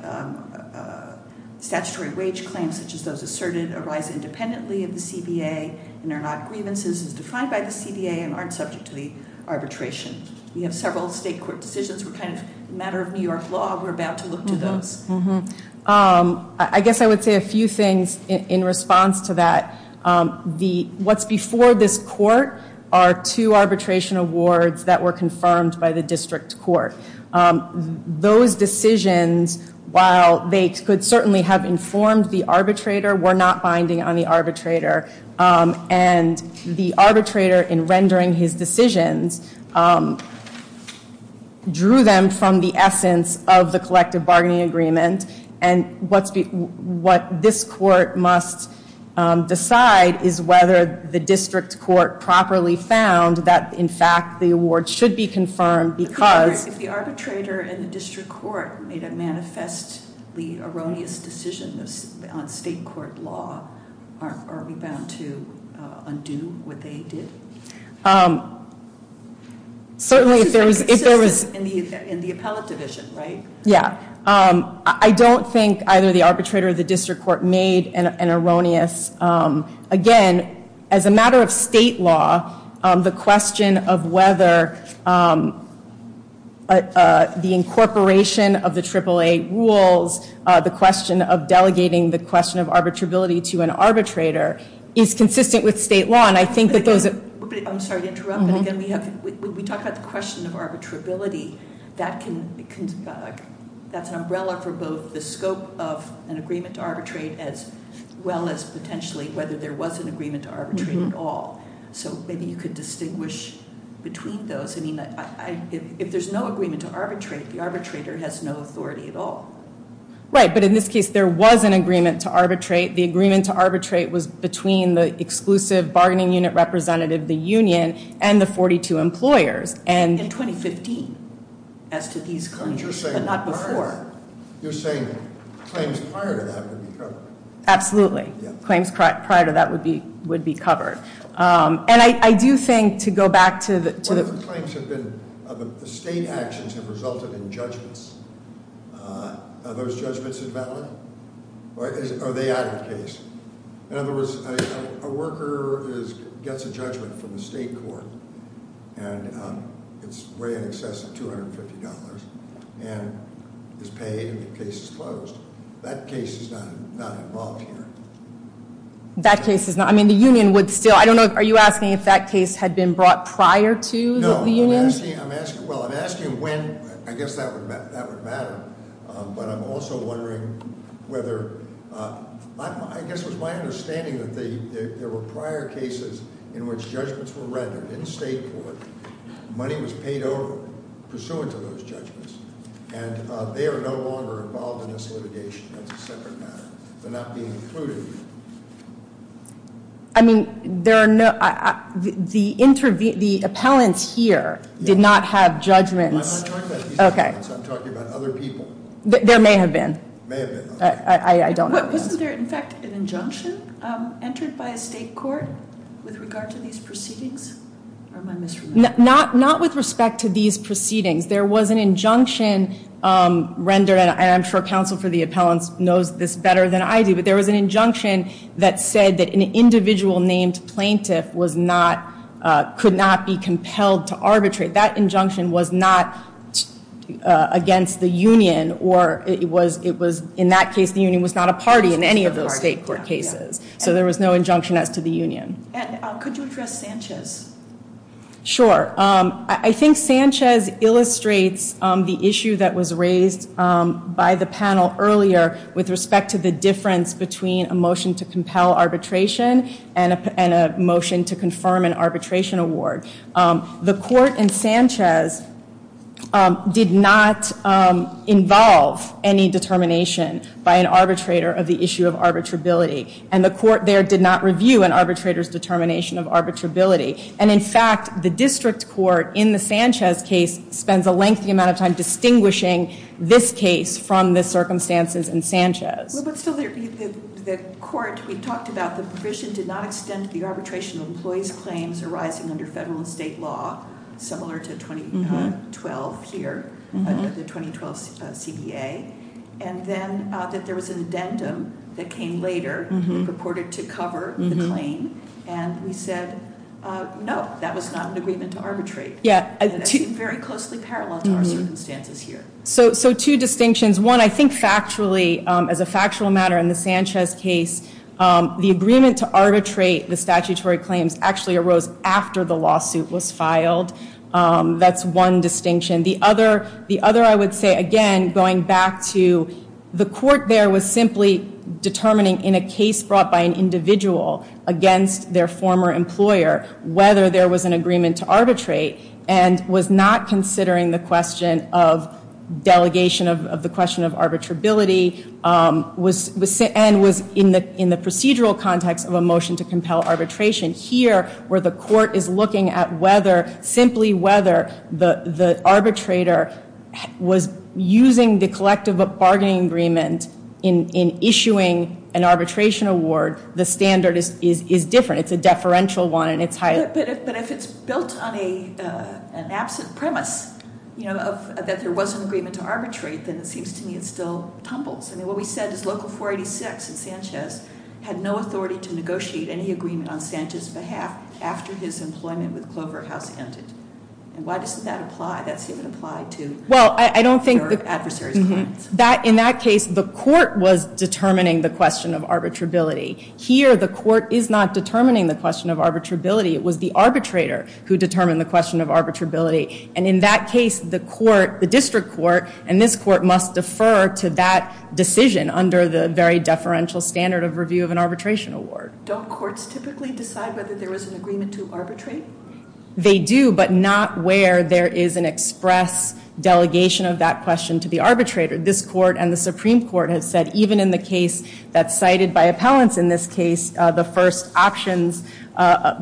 statutory wage claims such as those asserted arise independently of the CBA and are not grievances, are defined by the CBA, and aren't subject to the arbitration? We have several state court decisions we're trying to, as a matter of New York law, we're about to look into those. I guess I would say a few things in response to that. What's before this court are two arbitration awards that were confirmed by the district court. Those decisions, while they could certainly have informed the arbitrator, were not binding on the arbitrator. And the arbitrator, in rendering his decisions, drew them from the essence of the collective bargaining agreement. And what this court must decide is whether the district court properly found that, in fact, the award should be confirmed because... If the arbitrator and the district court made a manifestly erroneous decision on state court law, are we bound to undo what they did? Certainly, if there was... In the appellate division, right? Yeah. I don't think either the arbitrator or the district court made an erroneous... Again, as a matter of state law, the question of whether the incorporation of the AAA rules, the question of delegating the question of arbitrability to an arbitrator, is consistent with state law. And I think that... I'm sorry to interrupt, but again, when we talk about the question of arbitrability, that's an umbrella for both the scope of an agreement to arbitrate as well as potentially whether there was an agreement to arbitrate at all. So maybe you could distinguish between those. I mean, if there's no agreement to arbitrate, the arbitrator has no authority at all. Right, but in this case, there was an agreement to arbitrate. The agreement to arbitrate was between the exclusive bargaining unit representative, the union, and the 42 employers. In 2015. As to these claims, but not before. You're saying claims prior to that would be covered. Absolutely. Claims prior to that would be covered. And I do think, to go back to the... Claims have been... State actions have resulted in judgments. Are those judgments invalid? Or are they out of case? In other words, a worker gets a judgment from the state court, and it's way in excess of $250. And it's paid, the case is closed. That case is not involved here. That case is not... I mean, the union would still... I don't know, are you asking if that case had been brought prior to the union? No, I'm asking... Well, I'm asking when... I guess that would matter. But I'm also wondering whether... I guess my understanding would be that there were prior cases in which judgments were regular. In the state court, money was paid over pursuant to those judgments. And they are no longer involved in this litigation. That's a separate matter. They're not being included. I mean, there are no... The appellant here did not have judgments... I'm not talking about these appellants. I'm talking about other people. There may have been. May have been. I don't know. Wasn't there, in fact, an injunction entered by a state court with regard to these proceedings? Or am I misremembering? Not with respect to these proceedings. There was an injunction rendered, and I'm sure counsel for the appellant knows this better than I do, but there was an injunction that said that an individual named plaintiff was not... could not be compelled to arbitrate. That injunction was not against the union, or it was... In that case, the union was not a party in any of those state court cases. So there was no injunction as to the union. And could you address Sanchez? Sure. I think Sanchez illustrates the issue that was raised by the panel earlier with respect to the difference between a motion to compel arbitration and a motion to confirm an arbitration award. The court in Sanchez did not involve any determination by an arbitrator of the issue of arbitrability, and the court there did not review an arbitrator's determination of arbitrability. And in fact, the district court in the Sanchez case spends a lengthy amount of time distinguishing this case from the circumstances in Sanchez. Well, but still, the court, we've talked about the provision did not extend of employee's claims arising under federal and state law similar to 2012 here, the 2012 CDA, and then that there was an addendum that came later that was reported to cover the claim, and we said, no, that was not an agreement to arbitrate. Yeah. And that's very closely parallel to our circumstances here. So two distinctions. One, I think factually, as a factual matter in the Sanchez case, the agreement to arbitrate the statutory claims actually arose after the lawsuit was filed. That's one distinction. The other, the other I would say, again, going back to, the court there was simply determining in a case brought by an individual against their former employer whether there was an agreement to arbitrate and was not considering the question of delegation of the question of arbitrability and was in the procedural context of a motion to compel arbitration. Here, where the court is looking at whether, simply whether, the arbitrator was using the collective bargaining agreement in issuing an arbitration award, the standard is different. It's a deferential one and it's highly... But if it's built on an absent premise, you know, that there was an agreement to arbitrate, then it seems to me it still tumbles. I mean, what we said is Local 486 in Sanchez had no authority to negotiate any agreement on Sanchez's behalf after his employment with Clover Outstanding. Why doesn't that apply? That's even applied to... Well, I don't think... ...your adversaries. Mm-hmm. In that case, the court was determining the question of arbitrability. Here, the court is not determining the question of arbitrability. It was the arbitrator who determined the question of arbitrability. And in that case, the court, the district court, and this court must defer to that decision under the very deferential standard of review of an arbitration award. Don't courts typically decide whether there was an agreement to arbitrate? They do, but not where there is an express delegation of that question to the arbitrator. This court and the Supreme Court have said, even in the case that's cited by appellants in this case, the first options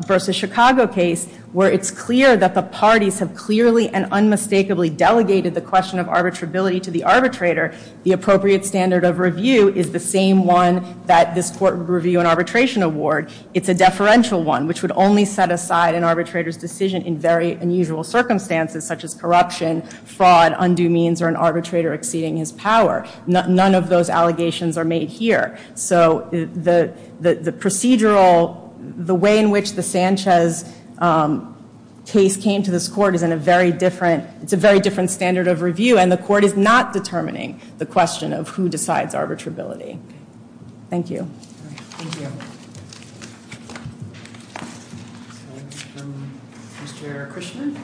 versus Chicago case, where it's clear that the parties have clearly and unmistakably delegated the question of arbitrability to the arbitrator, the appropriate standard of review is the same one that this court would review an arbitration award. It's a deferential one, which would only set aside an arbitrator's decision in very unusual circumstances, such as corruption, fraud, undue means, or an arbitrator exceeding his power. None of those allegations are made here. So the procedural, the way in which the Sanchez case came to this court is in a very different, it's a very different standard of review, and the court is not determining the question of who decides arbitrability. Thank you. Thank you. Mr. Kershner?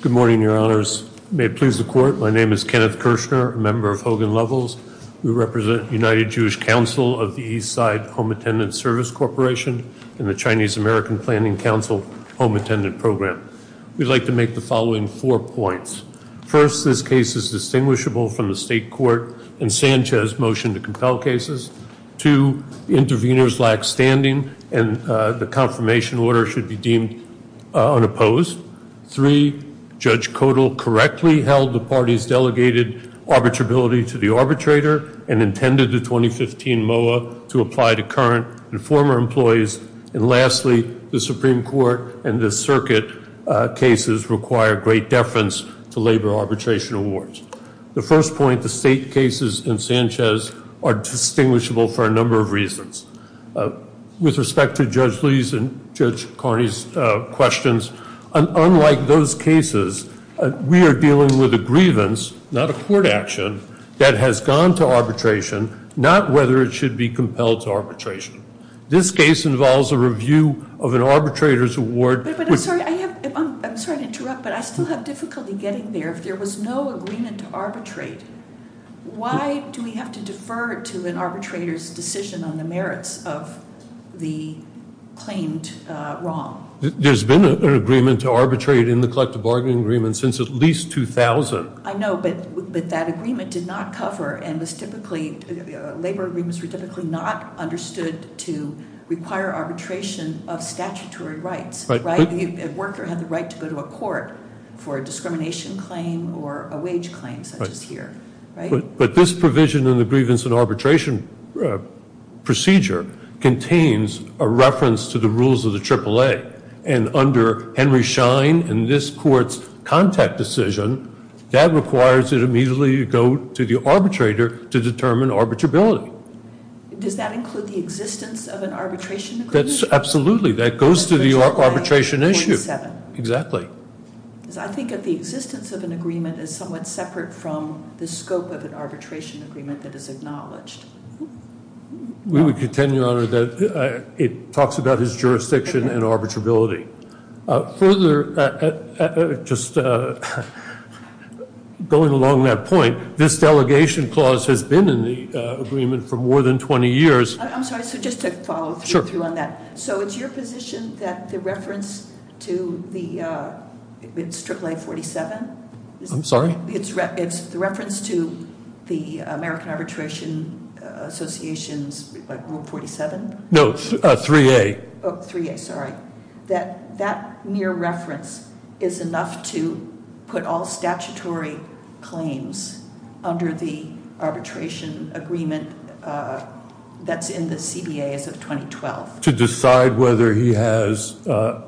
Good morning, your honors. May it please the court, my name is Kenneth Kershner, a member of Hogan Levels. We represent the United Jewish Council of the East Side Home Attendant Service Corporation and the Chinese American Planning Council Home Attendant Program. We'd like to make the following four points. First, this case is distinguishable from the state court in Sanchez's motion to compel cases. Two, the interveners lack standing and the confirmation order should be deemed unopposed. Three, Judge Kodal correctly held the party's delegated arbitrability to the arbitrator and intended the 2015 MOA to apply to current and former employees. And lastly, the Supreme Court and the circuit cases require great deference to labor arbitration awards. The first point, the state cases in Sanchez are distinguishable for a number of reasons. With respect to Judge Lee's and Judge Carney's questions, unlike those cases, we are dealing with a grievance, not a court action, that has gone to arbitration, not whether it should be compelled to arbitration. This case involves a review of an arbitrator's award. But I'm sorry to interrupt, but I still have difficulty getting there. If there was no agreement to arbitrate, why do we have to defer to an arbitrator's decision on the merits of the claims wrong? There's been an agreement to arbitrate in the collective bargaining agreement since at least 2000. I know, but that agreement did not cover and was typically, labor agreements were typically not understood to require arbitration of statutory rights. It worked or had the right to go to a court for a discrimination claim or a wage claim such as here. But this provision in the grievance and arbitration procedure contains a reference to the rules of the AAA. And under Henry Schein and this court's contact decision, that requires it immediately to go to the arbitrator to determine arbitrability. Does that include the existence of an arbitration agreement? Absolutely. That goes to the arbitration issue. Exactly. I think that the existence of an agreement is somewhat the scope of an arbitration agreement that is acknowledged. We would contend, Your Honor, that it talks about its jurisdiction and arbitrability. Further, just going along that point, this delegation clause has been in the agreement for more than 20 years. I'm sorry, just to follow through on that. So is your position that the reference to the AAA 47? I'm sorry? It's the reference to the American Arbitration Association's Rule 47? No, 3A. Oh, 3A, sorry. That mere reference is enough to put all statutory claims under the arbitration agreement that's in the ABA as of 2012? To decide whether he has, to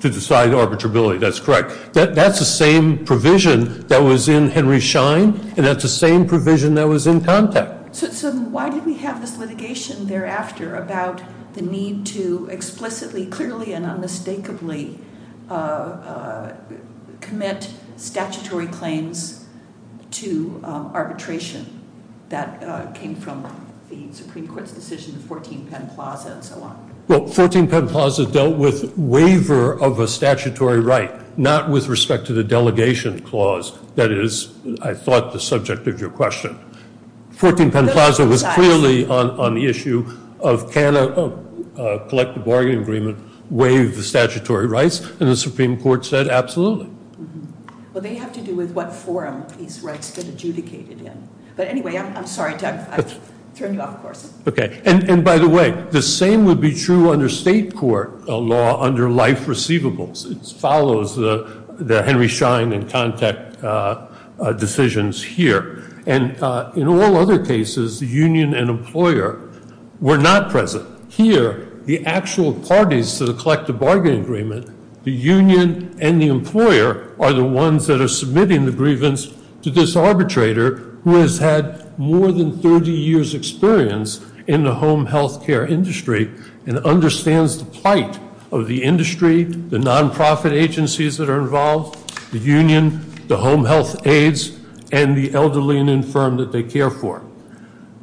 decide arbitrability, that's correct. That's the same provision that was in Henry Schein and that's the same provision that was in Tompak. So why did we have this litigation thereafter about the need to explicitly, clearly, and unmistakably commit statutory claims to arbitration that came from the Supreme Court's decisions, 1410 Plaza and so on? Well, 1410 Plaza dealt with waiver of a statutory right, not with respect to the delegation clause that is, I thought, the subject of your question. 1410 Plaza was clearly on the issue of can a person have the statutory rights and the Supreme Court said absolutely. And by the way, the same would be true under state court law under life receivables. It follows the Henry Schein and contact decisions here. And in all other cases, the union and employer were not present. Here, the actual parties to the collective bargaining agreement, the union and the employer are the ones submitting the grievance to this arbitrator who has had more than 30 years experience in the home health care industry and the care industry.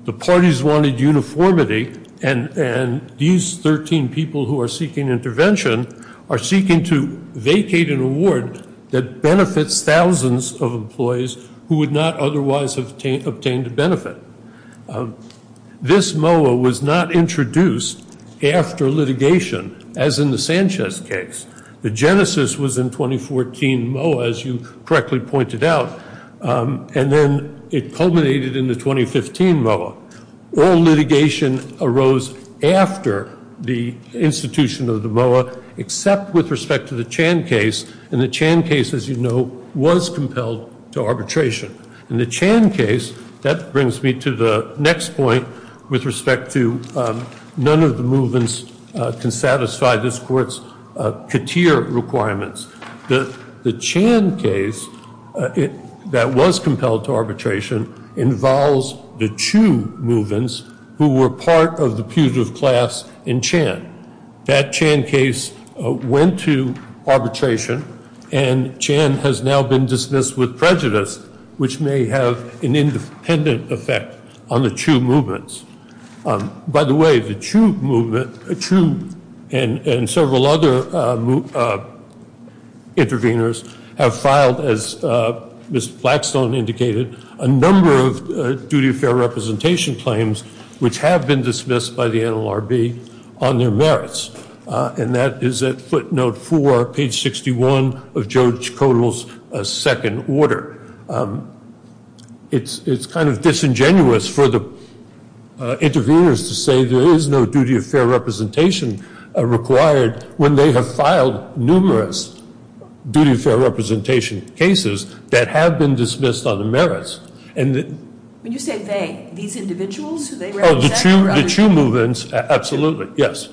The parties wanted uniformity and these 13 people who are seeking intervention are seeking to vacate an award that benefits thousands of employees who would not otherwise obtain the benefit. This was not introduced after litigation as in the Sanchez case. The litigation arose after the institution of the MOA except with respect to the Chan case. The Chan case, as you know, was compelled to arbitration. The Chan case, that brings me to the next point with respect to none of the movements to satisfy this court's requirements. The Chan case that was compelled to arbitration involves the Chu movements who were part of the class in Chan. That Chan case went to arbitration and Chan has now been dismissed with prejudice which may have an independent effect on the Chu movements. By the way, the Chu movement and several other interveners have filed as Ms. Blackstone indicated, a number of duty of fair representation claims which have been dismissed by the NLRB on their merits. That is footnote 4, page 61 of the second order. It is kind of disingenuous for the interveners to say there is no duty of fair representation required when they have filed numerous duty of fair representation cases that have been dismissed on the merits. The Chu movements, absolutely, yes.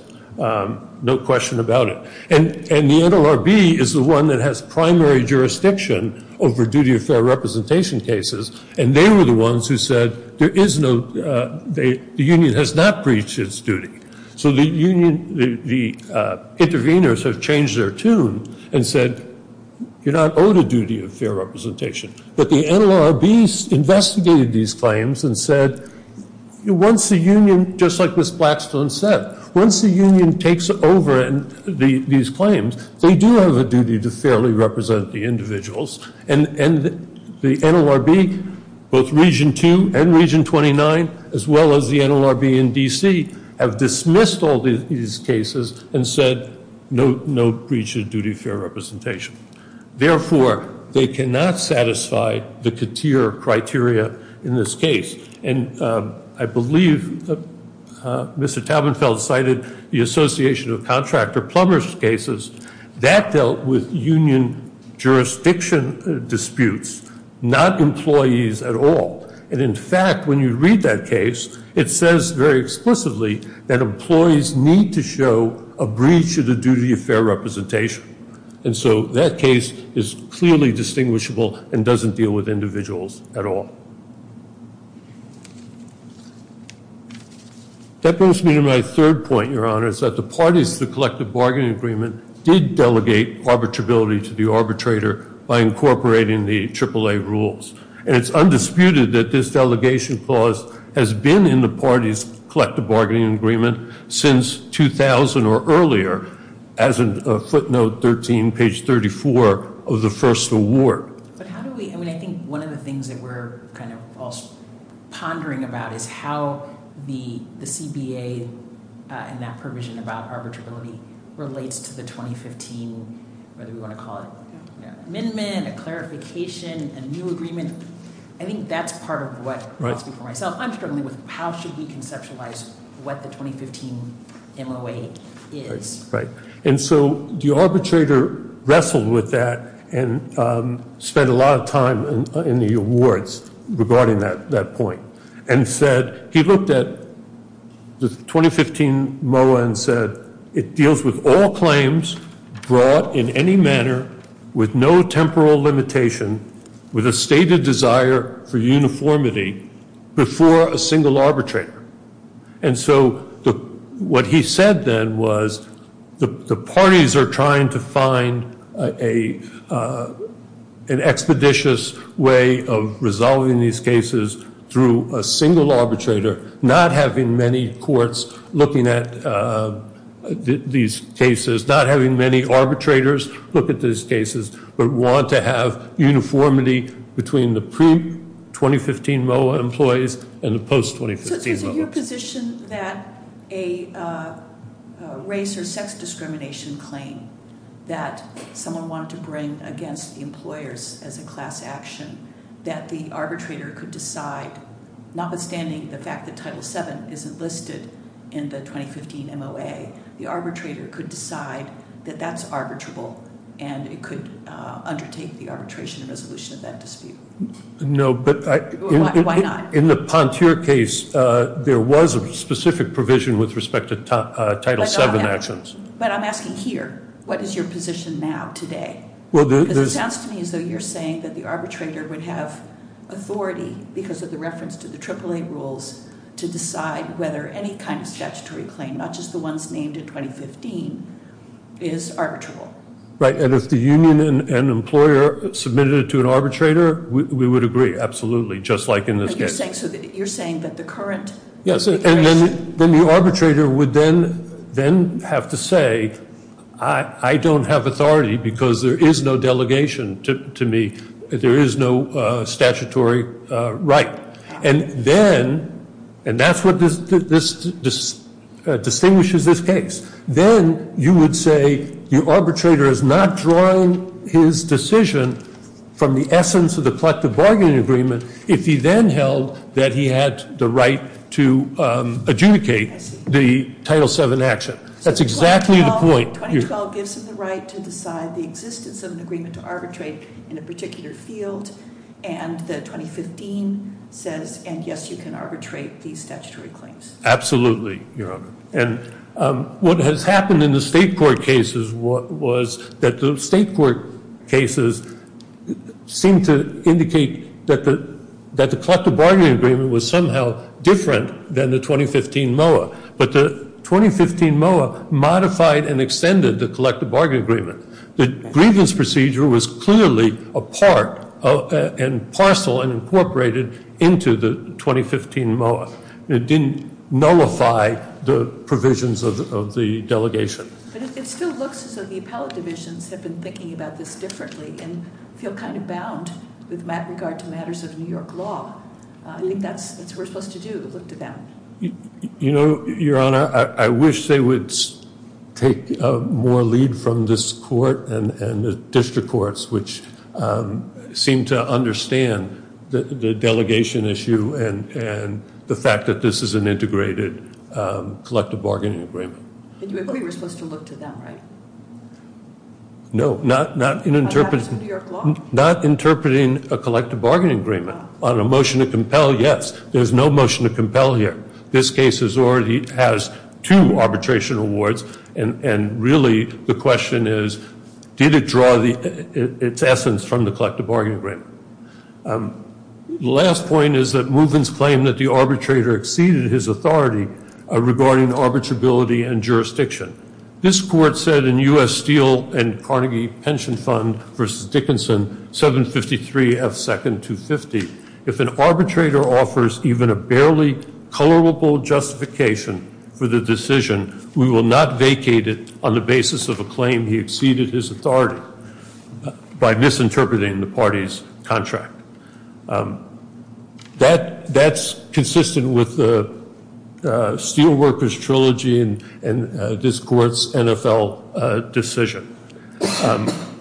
No question about it. And the NLRB is the one that has primary jurisdiction over duty of fair representation cases and they were the ones who said there is no, the union has not reached its duty. So the interveners have changed their tune and said you are not owed a duty of fair representation. But the NLRB investigated these claims and said once the union takes over these claims, they do have a duty to fairly represent the union. The union and region 29 as well as the NLRB and D.C. have dismissed all these cases and said no duty of fair representation. Therefore, they cannot satisfy the criteria in this case. And I believe Mr. Taubenfeld cited the association of contractor cases that dealt with union jurisdiction disputes, not employees at all. And in fact, when you read that case, it says very explicitly that employees need to show a breach of the duty of fair representation. So that case is clearly distinguishable and doesn't deal with individuals at all. That brings me to which is how do we incorporate the AAA rules? It's undisputed that this delegation clause has been in the parties since 2000 or earlier, as in footnote 13, page 34 of the first award. I think one of the things that we're pondering about is how the CBA and that provision about arbitrability relates to the 2015 amendment and clarification and new agreement. I think that's part of what I'm struggling with. How should we conceptualize what the 2015 MOA is? So the arbitrator wrestled with that and spent a lot of time in the awards regarding that point and said he looked at the 2015 MOA and said it deals with all claims brought in any manner with no temporal limitation with a stated desire for clarity. And so what he said then was the parties are trying to find an expeditious way of resolving these cases through a single arbitrator not having many courts looking at these cases, not having many arbitrators look at these cases but want to have uniformity between the pre-2015 MOA employees and the post-2015 MOA. So is it your position that a race or sex discrimination claim that someone wanted to bring against the employers as a class action that the arbitrator could decide notwithstanding the fact that Title VII isn't listed in the 2015 MOA, the arbitrator could decide that that's arbitrable and it could undertake the arbitration resolution of that dispute. Why not? In the Pontier case there was a specific provision with respect to Title VII actions. But I'm asking here what is your position now today? It sounds to me as though you're saying that the arbitrator would have authority because of the reference to the AAA rules to decide whether any kind of statutory claim, not just the ones named in 2015, is arbitrable. And if the union and employer submitted it to an arbitrator, we would agree. Absolutely. Just like in this case. You're saying that the current... Yes. The arbitrator would then have to say I don't have authority because there is no delegation to me, there is no statutory right. And then, and that's what distinguishes this case, then you would say the arbitrator is not drawing his decision from the essence of the collective bargaining agreement if he then held that he had the right to adjudicate the Title VII action. That's exactly the point. So this is the right to decide the existence of an agreement to arbitrate in a particular field and the 2015 says yes you can arbitrate these statutory claims. Absolutely. What has happened in the state court cases was that the state court cases seemed to indicate that the collective bargaining agreement was somehow different than the 2015 MOA. But the 2015 MOA modified and extended the collective bargaining agreement. The grievance procedure was clearly a part and parcel and incorporated into the 2015 MOA. It didn't nullify the provisions of the delegation. It still looks as though the collective an integrated collective bargaining agreement. I wish they would take more lead from this court and the district courts which seem to understand the delegation issue and the fact that this is an integrated collective bargaining agreement. Not interpreting a collective bargaining agreement. There's no motion to compel here. This case has two arbitration awards and really the question is did it draw its essence from the collective bargaining agreement. The last point is that the arbitrator exceeded his authority regarding arbitrability and jurisdiction. This court said in U.S. Steel and Carnegie pension fund versus Dickinson if an arbitrator offers even a barely colorable justification for the decision we will not vacate it on the basis of a claim he exceeded his authority by misinterpreting the party's contract. That's consistent with the steel workers trilogy and this court's NFL decision.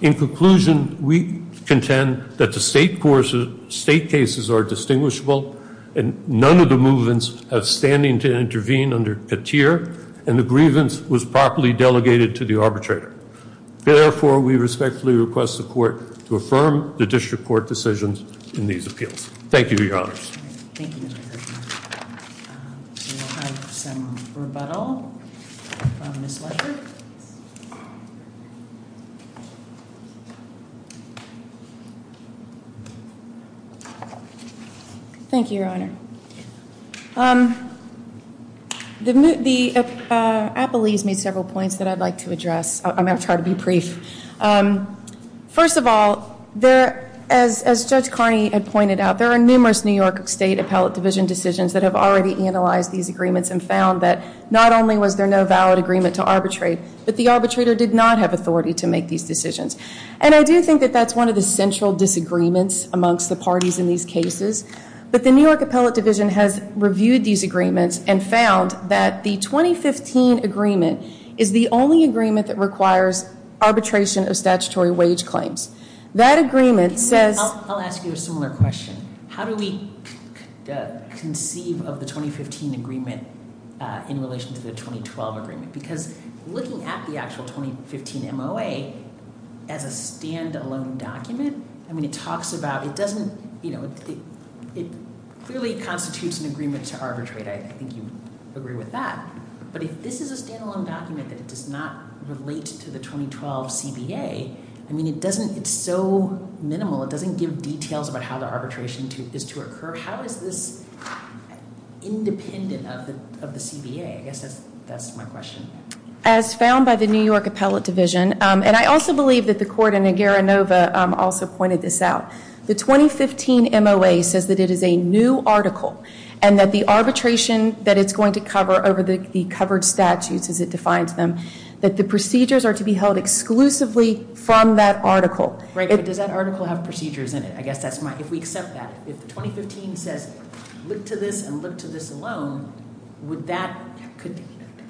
In conclusion, we contend that the state cases are distinguishable and none of the movements have standing to intervene and the grievance was properly delegated to the plaintiff. Thank you. have some rebuttal. Ms. Leiker. Thank you, your honor. I believe several points I would like to address. It's hard to be brief. First of all, as Judge Carney pointed out, there are numerous New York state appellate division decisions that have found that not only was there no valid agreement to arbitrate, but the arbitrator did not have authority to make these decisions. The New York appellate division found that the 2015 agreement is the only agreement that requires arbitration of statutory wage claims. That agreement says... I'll ask you a similar question. How do we conceive of the 2015 agreement in relation to the 2012 agreement? Looking at the 2015 MOA as a stand alone document, it clearly constitutes an agreement to arbitrate. I think you agree with that. But if this is a stand alone document that does not relate to the 2012 CBA, it's so minimal. It doesn't give details about how the arbitration is to occur. How is this independent of the 2015 MOA? The 2015 MOA says it's a new article and the arbitration is to be held exclusively from that article. If 2015 says look to this and look to this alone,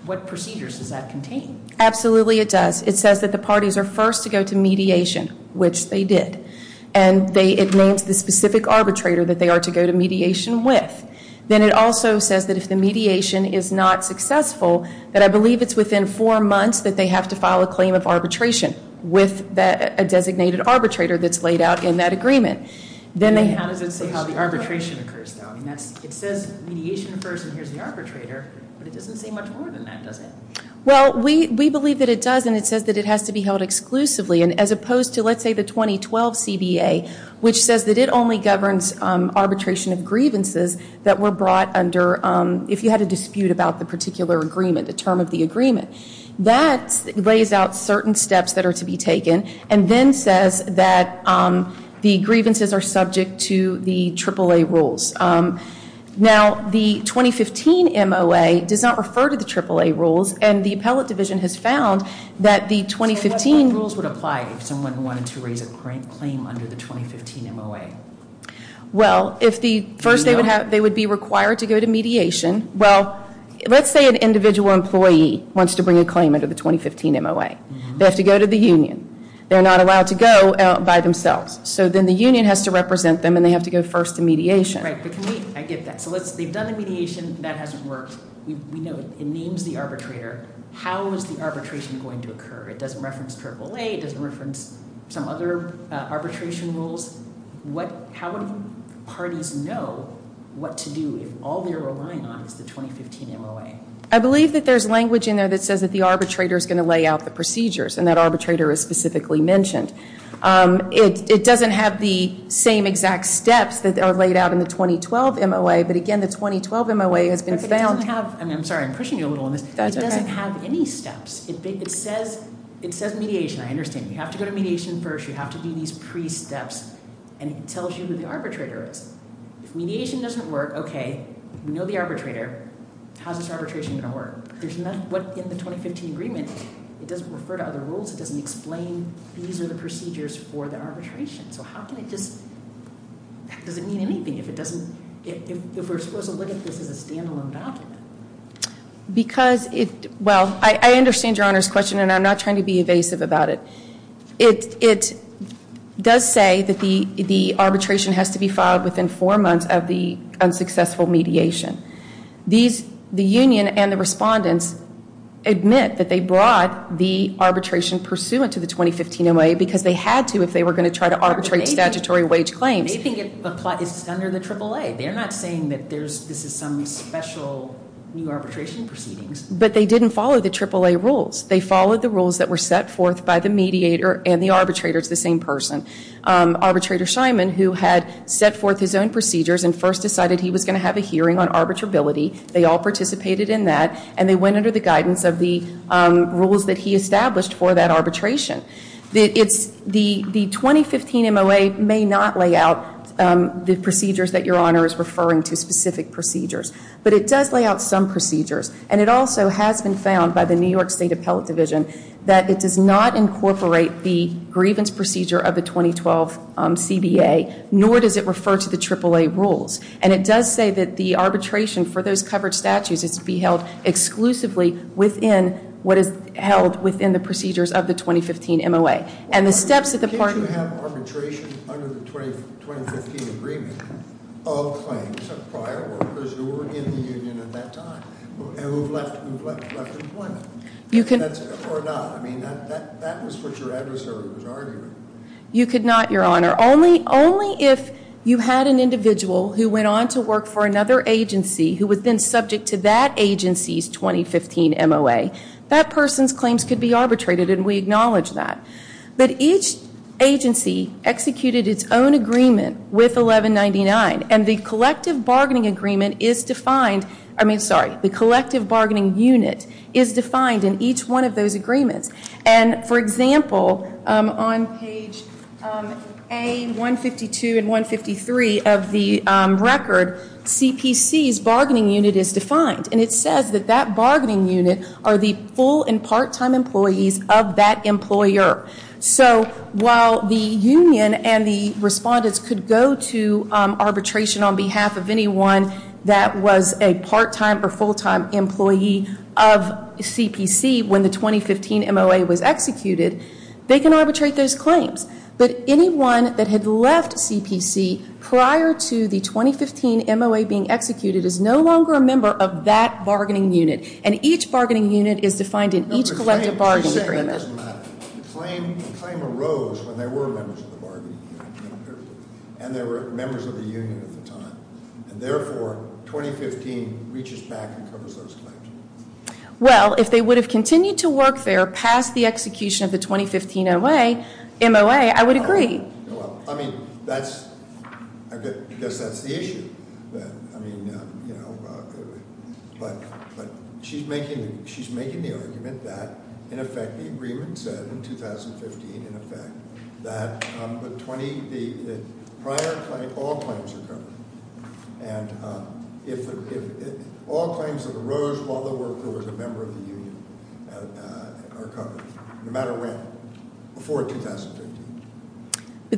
what procedures does that contain? It says the parties are first to go to mediation, which they did. And it names the specific arbitrator that they are to go to mediation with. Then it also says that if the mediation is not successful, that I believe it's within four months that they have to file a claim of arbitration with a new says that the arbitration is to be held exclusively and as opposed to let's say the 2012 CBA, which says that it only governs arbitration and grievances that were brought under if you had a dispute about the particular agreement, the term of the agreement. That lays out certain steps that are to be taken and then says that the grievances are subject to the triple A rules. Now, the 2015 MLA does not refer to the triple A rules and the appellate division has found that the individual employee wants to bring a claim under the 2015 MLA. They have to go to the union. They're not allowed to go by themselves. So then the union has to represent them and they have to go first to mediation. We've done the mediation and that hasn't worked. We know it means that arbitrator has to go to the arbitrator. How is the arbitration going to occur? It doesn't reference triple A. It doesn't reference some other arbitration rules. How do parties know what to do if all they're relying on is the 2015 MLA? I believe there's language that says the arbitrator is going to lay out the procedures. It doesn't have the same exact steps that are laid out in the 2012 MLA. It doesn't have any steps. It says mediation. You have to go to mediation first. It tells you who the arbitrator is. It doesn't refer to other rules. It doesn't explain these are the procedures for the arbitration. Does it mean anything if we're supposed to look at this as a standalone document? I understand Your Honor's question and I'm not trying to be evasive about it. It does say that the arbitration by the mediator and the arbitrator. The union and the respondents admit that they brought the arbitration pursuant to the 2015 MLA because they had to if they were going to arbitrate the statutory wage claim. They didn't follow the triple A rules. They followed the rules that were set forth by the mediator and the arbitrator. Arbitrator Simon who had set forth his own procedures and first decided he was going to have a hearing on arbitrability and they went under the rules that he for that arbitration. The 2015 MLA may not lay out the procedures that your honor is referring to but it does lay out some procedures. It has been found that it does not incorporate the grievance procedure of the 2012 CBA nor does it refer to the triple A rules. It does say that the arbitration for those covered is to be held exclusively within the procedures of the 2015 MLA. The steps that the parties took under the 2015 MLA were that only if you had an individual who went on to work for another agency who was then subject to that agency's 2015 MLA, that person's claims could be arbitrated and we acknowledge that. But each agency executed its own agreement with 2015 MLA. So on page A, 152 and 153 of the record, CPC's bargaining unit is defined and it says that that bargaining unit are the full and part time employees of that employer. So while the union and the respondents could go to CPC to arbitrate those claims, but anyone that had left CPC prior to the 2015 MLA being executed is no longer a member of that bargaining unit and each bargaining unit is defined in each collective bargaining unit. Well, if they would have continued to work there past the execution of the 2015 MLA, I would agree. That's the issue. She's making the argument that in effect the agreement said in 2015 in effect that prior to all claims are terminated and if all claims have eroded while the MLA was in office, the union would not have the authority to represent anyone that did not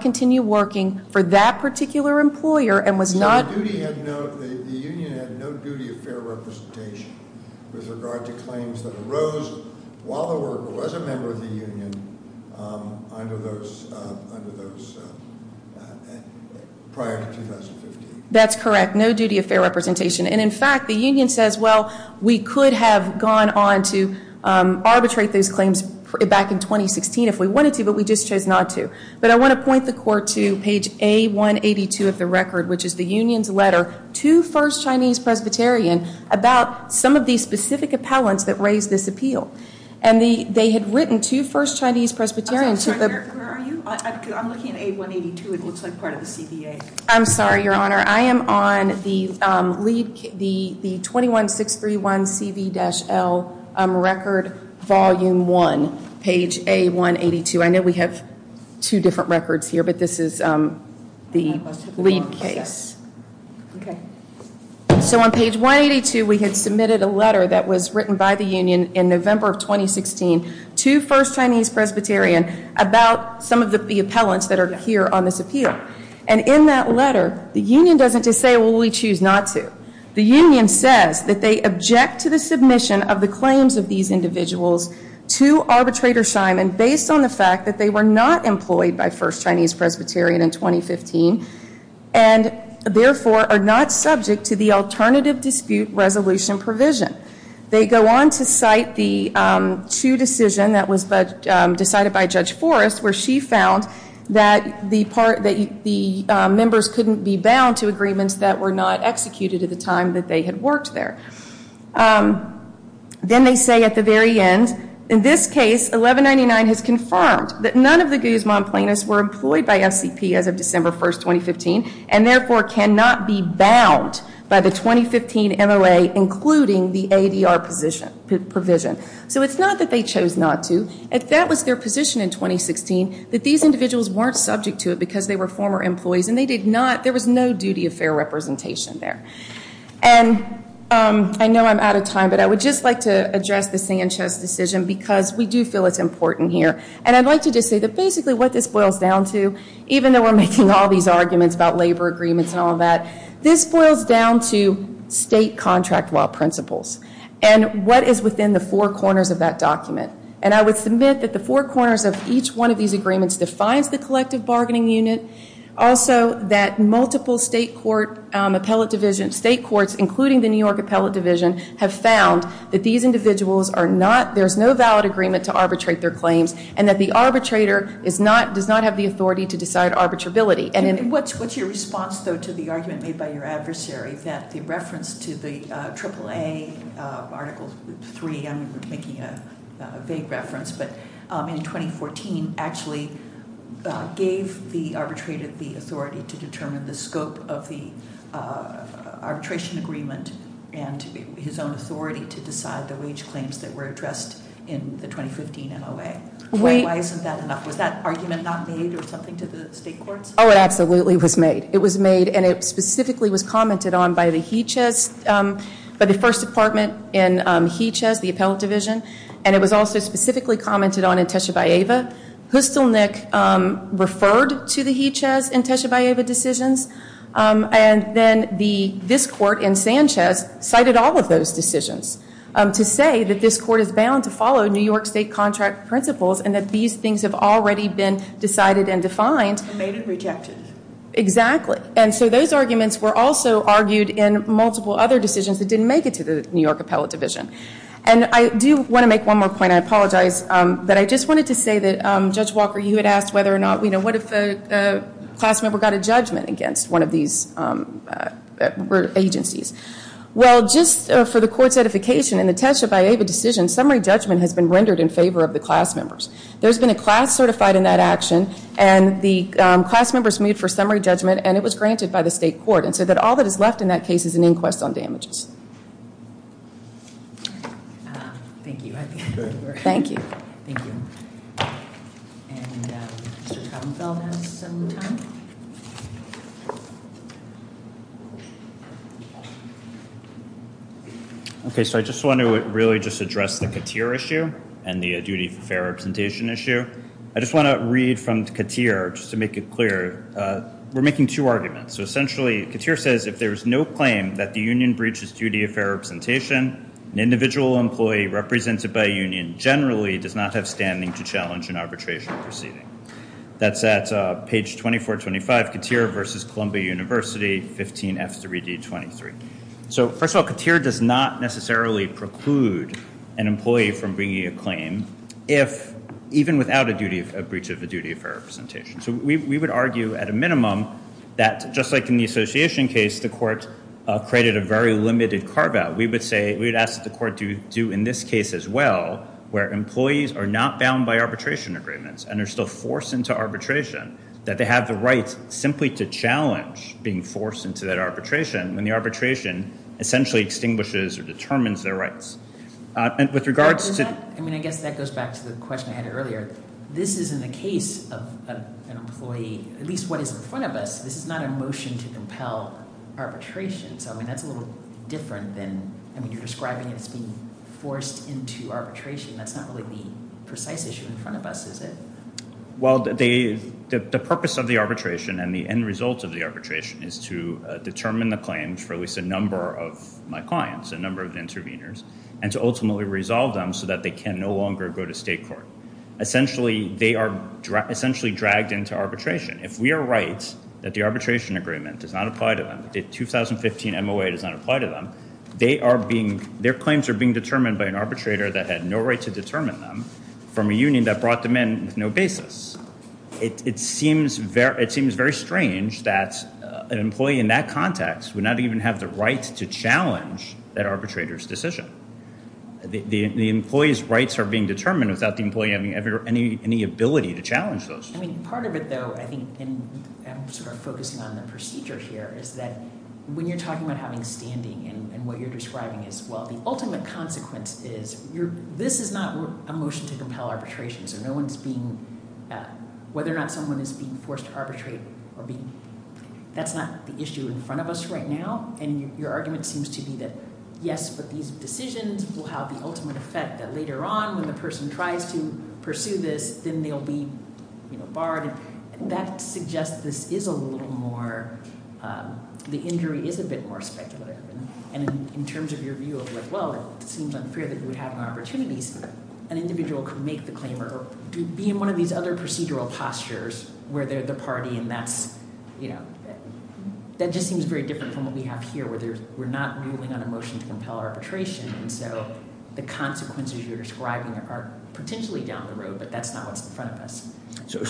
continue working for that particular employer. The union had no duty of fair representation with regard to claims like that. That's correct. No duty of fair representation. In fact, the union says, well, we could have gone on to arbitrate those claims back in 2016 if we wanted to, but we just chose not to. I want to point the court to page A-182 of the record, which is the union's letter to the first Chinese Presbyterian about some of the specific appellants that raised this appeal. I'm sorry, your honor. I'm on the record volume 1, page A-182. I know we have two different records here, but this is the lead case. So on page 182, we have submitted a letter that was written by the union in November of 2016 to Presbyterian about some of the appellants that are here on this appeal. And in that letter, the union doesn't just say, well, appellants that we choose not to. The union says that they object to the submission of the claims of these individuals to arbitrator Simon based on the fact that they were not employed by the first Chinese Presbyterian in 2015 and therefore are not subject to the alternative dispute resolution provision. They go on to cite the two decisions that were decided by Judge Forrest where she found that the members couldn't be bound to agreements that were not executed at the time that decision was made. The decision was made on December 1, 2015, and therefore cannot be bound by the 2015 MLA including the ADR provision. So it's not that they chose not to. It's that was their position in 2016 that these individuals weren't subject to it because they were former employees. There was no duty of fair representation there. I know I'm out of time but I would like to address this decision because we do feel it's important here. This boils down to state contract law and what is within the four corners of that document. I would submit that the four corners define the collective bargaining unit and multiple state courts have found that these individuals are not there's no valid agreement to arbitrate their claims and the arbitrator does not have the authority to decide arbitrability. What's your response to the argument made by your adversary that the reference to the triple A article 3 in 2014 actually gave the arbitrator the authority to determine the scope of the arbitration agreement and his authority scope of the arbitration agreement. Is that argument not made or something to the state court? It was made and commented on by the first department and it was also specifically commented on in Teche Bayeva. They referred to the fact that the court cited all of those decisions to say that this court is bound to follow New York state contract principles and that these things have been decided and defined. Those arguments were also argued in multiple other decisions that didn't make it to the New York appellate division. I wanted to say that Judge Walker asked what if a class member got a judgment against one of these agencies. For the court certification summary judgment has been rendered in favor of the class members. There has been a class certified in that action and it was granted by the state court and all that is left in that case is an inquest on damages. Thank you. I just want to really address the Katir issue and the duty of fair representation issue. I want to read from Katir to make it clear. We are making two arguments. Katir says if there is no claim that the union breaches duty of fair representation an individual employee represented by a union generally does not have standing to challenge an arbitration proceeding. That is page 2425 Katir versus Columbia University. First of all, Katir does not preclude an employee from bringing a claim even without a breach of the duty of fair representation. We would argue at a minimum that just like in the association case, we would ask the court to do in this case as well where employees are not bound by arbitration agreements and are forced into arbitration that they have the right to challenge being forced into arbitration when the arbitration essentially extinguishes or determines their rights. With regards to... That goes back to the question I had earlier. This is not a motion to compel arbitration. That is a little different than describing being forced into arbitration. That is not the precise issue. The purpose of the arbitration and the end result is to determine the claims for a number of clients and interveners and ultimately resolve them so they can no longer go to state court. Essentially they are dragged into arbitration. If we are right that the arbitration agreement does not apply to them, their claims are being determined by an arbitrator that had no right to determine them. It seems very strange that an employee in that context would not even have the right to challenge that arbitrator's decision. The employee's rights are being determined without the arbitrator the right to determine them. The ultimate consequence is that this is not a motion to compel arbitration. That is not the issue in front of us right now. Your argument seems to be that yes, these decisions will have the right to make them. In terms of your view as well, it seems unfair that we have opportunities where an individual can make the claim or be in one of these other procedural postures where there is a party and that is fair. If this court upholds the confirmation of the award, there will be injunctions entered in various cases prohibiting these employees from proceeding in state court. Their claims will be extinguished. Thank you.